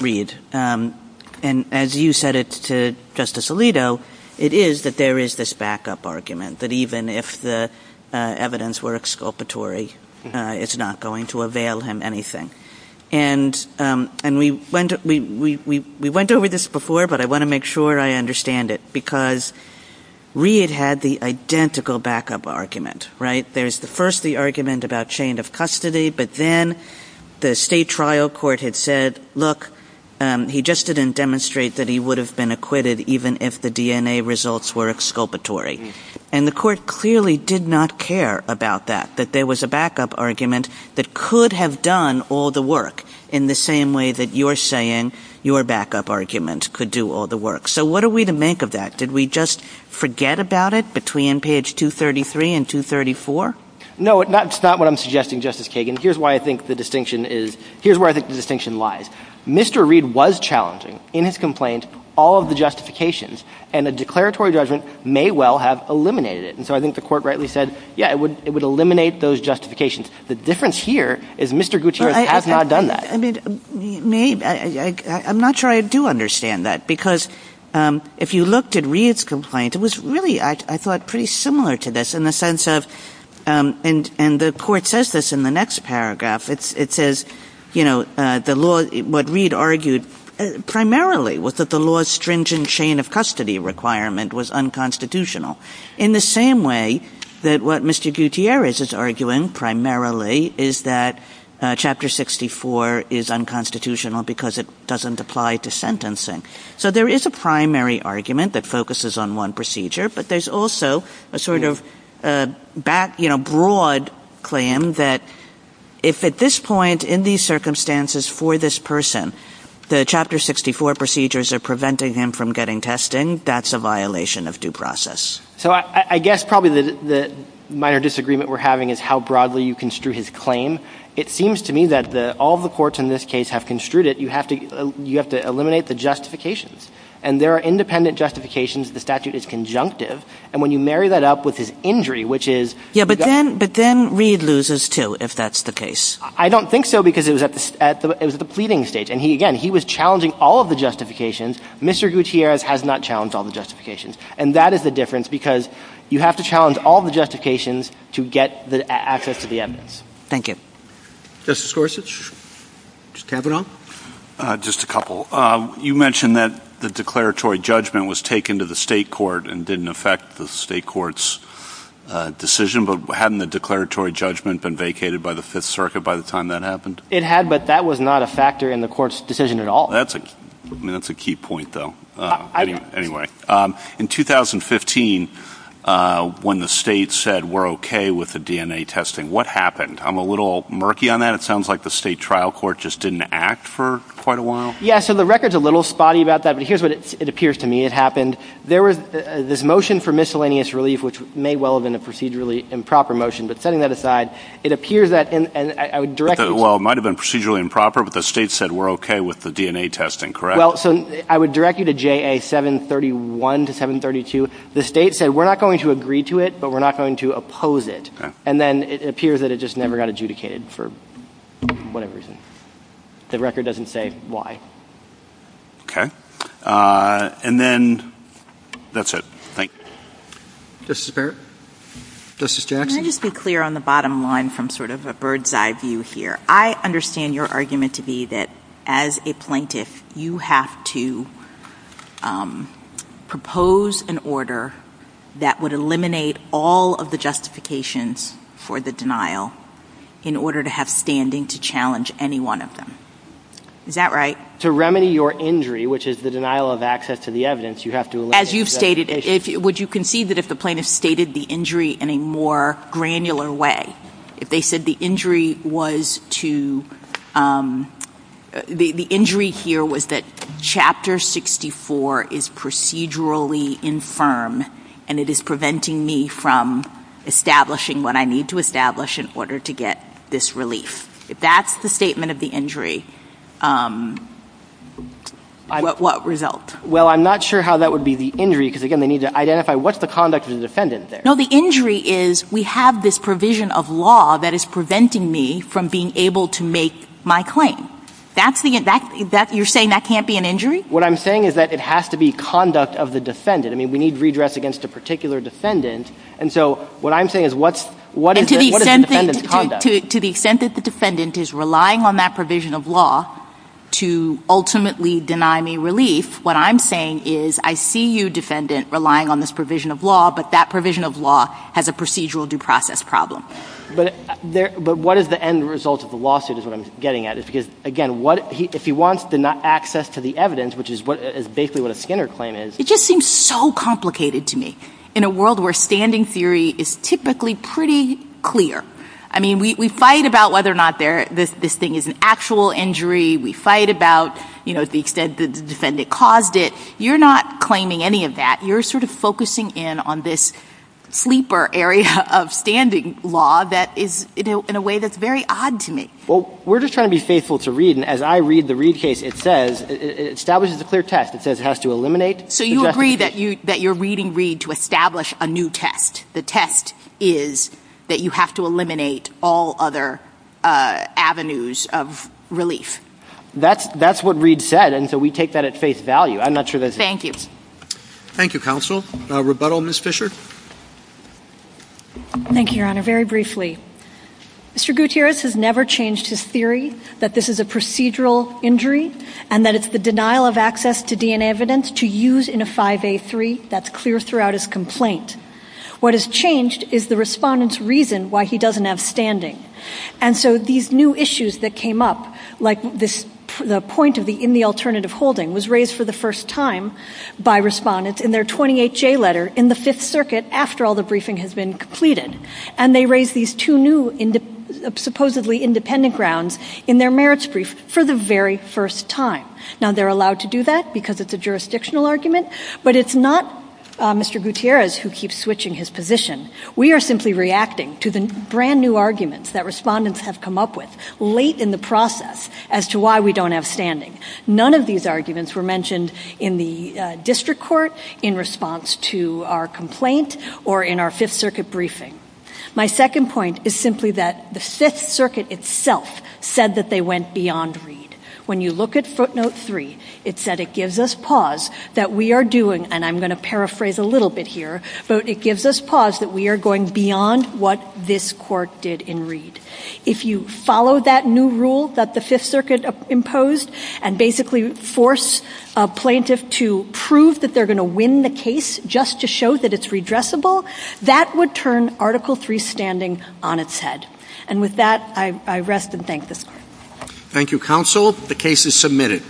Reed. And as you said it to Justice Alito, it is that there is this backup argument that even if the evidence were exculpatory, it's not going to avail him anything. And we went over this before, but I want to make sure I understand it because Reed had the identical backup argument, right? There's first the argument about chain of custody, but then the state trial court had said, look, he just didn't demonstrate that he would have been acquitted even if the DNA results were exculpatory. And the court clearly did not care about that, that there was a backup argument that could have done all the work in the same way that you're saying your backup argument could do all the work. So what are we to make of that? Did we just forget about it between page 233 and 234? No, it's not what I'm suggesting, Justice Kagan. Here's where I think the distinction lies. Mr. Reed was challenging in his complaint all of the justifications, and a declaratory judgment may well have eliminated it. And so I think the court rightly said, yeah, it would eliminate those justifications. The difference here is Mr. Gutierrez has not done that. I'm not sure I do understand that because if you looked at Reed's complaint, it was really, I thought, pretty similar to this in the sense of and the court says this in the next paragraph, it says, you know, what Reed argued primarily was that the law's stringent chain of custody requirement was unconstitutional in the same way that what Mr. Gutierrez is arguing primarily is that Chapter 64 is unconstitutional because it doesn't apply to sentencing. So there is a primary argument that focuses on one procedure, but there's also a sort of broad claim that if at this point in these circumstances for this person, the Chapter 64 procedures are preventing him from getting testing, that's a violation of due process. So I guess probably the minor disagreement we're having is how broadly you construe his claim. It seems to me that all the courts in this case have construed it. You have to eliminate the justifications. And there are independent justifications. The statute is conjunctive. And when you marry that up with his injury, which is... Yeah, but then Reed loses too, if that's the case. I don't think so because it was at the pleading stage. And again, he was challenging all of the justifications. Mr. Gutierrez has not challenged all the justifications. And that is the difference because you have to challenge all the justifications to get access to the evidence. Thank you. Justice Gorsuch, just to have it on? Just a couple. You mentioned that the declaratory judgment was taken to the state court and didn't affect the state court's decision. But hadn't the declaratory judgment been vacated by the Fifth Circuit by the time that happened? It had, but that was not a factor in the court's decision at all. That's a key point, though. In 2015, when the state said we're okay with the DNA testing, what happened? I'm a little murky on that. It sounds like the state trial court just didn't act for quite a while. Yeah, so the record's a little spotty about that, but here's what it appears to me it happened. There was this motion for miscellaneous relief, which may well have been a procedurally improper motion. But setting that aside, it appears that... Well, it might have been procedurally improper, but the state said we're okay with the DNA testing, correct? Well, so I would direct you to JA 731 to 732. The state said we're not going to agree to it, but we're not going to oppose it. And then it appears that it just never got adjudicated for whatever reason. The record doesn't say why. And then that's it. Thank you. Justice Barrett? Justice Jackson? Let me just be clear on the bottom line from sort of a bird's-eye view here. I understand your argument to be that as a plaintiff, you have to propose an order that would eliminate all of the justifications for the denial in order to have standing to challenge any one of them. Is that right? To remedy your injury, which is the denial of access to the evidence, you have to eliminate those justifications. Would you concede that if the plaintiff stated the injury in a more granular way, if they said the injury was to... The injury here was that Chapter 64 is procedurally infirm and it is preventing me from establishing what I need to establish in order to get this relief. If that's the statement of the injury, what results? Well, I'm not sure how that would be the injury, because, again, they need to identify what's the conduct of the defendant there. No, the injury is we have this provision of law that is preventing me from being able to make my claim. You're saying that can't be an injury? What I'm saying is that it has to be conduct of the defendant. I mean, we need redress against a particular defendant, and so what I'm saying is what is the defendant's conduct? To the extent that the defendant is relying on that provision of law to ultimately deny me relief, what I'm saying is I see you, defendant, relying on this provision of law, but that provision of law has a procedural due process problem. But what is the end result of the lawsuit is what I'm getting at. Again, if he wants access to the evidence, which is basically what a Skinner claim is... It just seems so complicated to me. In a world where standing theory is typically pretty clear. I mean, we fight about whether or not this thing is an actual injury. We fight about the extent that the defendant caused it. You're not claiming any of that. You're sort of focusing in on this sleeper area of standing law that is in a way that's very odd to me. Well, we're just trying to be faithful to Reed, and as I read the Reed case, it says it establishes a clear test. It says it has to eliminate... So you agree that you're reading Reed to establish a new test. The test is that you have to eliminate all other avenues of relief. That's what Reed said, and so we take that at face value. I'm not sure that's... Thank you. Thank you, counsel. Rebuttal, Ms. Fisher? Thank you, Your Honor. Very briefly, Mr. Gutierrez has never changed his theory that this is a procedural injury and that it's the denial of access to DNA evidence to use in a 5A3. That's clear throughout his complaint. What has changed is the respondent's reason why he doesn't have standing. And so these new issues that came up, like the point of the in the alternative holding, was raised for the first time by respondents in their 28J letter in the Fifth Circuit after all the briefing has been completed, and they raised these two new supposedly independent grounds in their merits brief for the very first time. Now, they're allowed to do that because it's a jurisdictional argument, but it's not Mr. Gutierrez who keeps switching his position. We are simply reacting to the brand-new arguments that respondents have come up with late in the process as to why we don't have standing. None of these arguments were mentioned in the district court, in response to our complaint, or in our Fifth Circuit briefing. My second point is simply that the Fifth Circuit itself said that they went beyond Reed. When you look at footnote 3, it said it gives us pause that we are doing, and I'm going to paraphrase a little bit here, but it gives us pause that we are going beyond what this court did in Reed. If you follow that new rule that the Fifth Circuit imposed and basically force a plaintiff to prove that they're going to win the case just to show that it's redressable, that would turn Article III standing on its head. And with that, I rest and thank the court. Thank you, counsel. The case is submitted.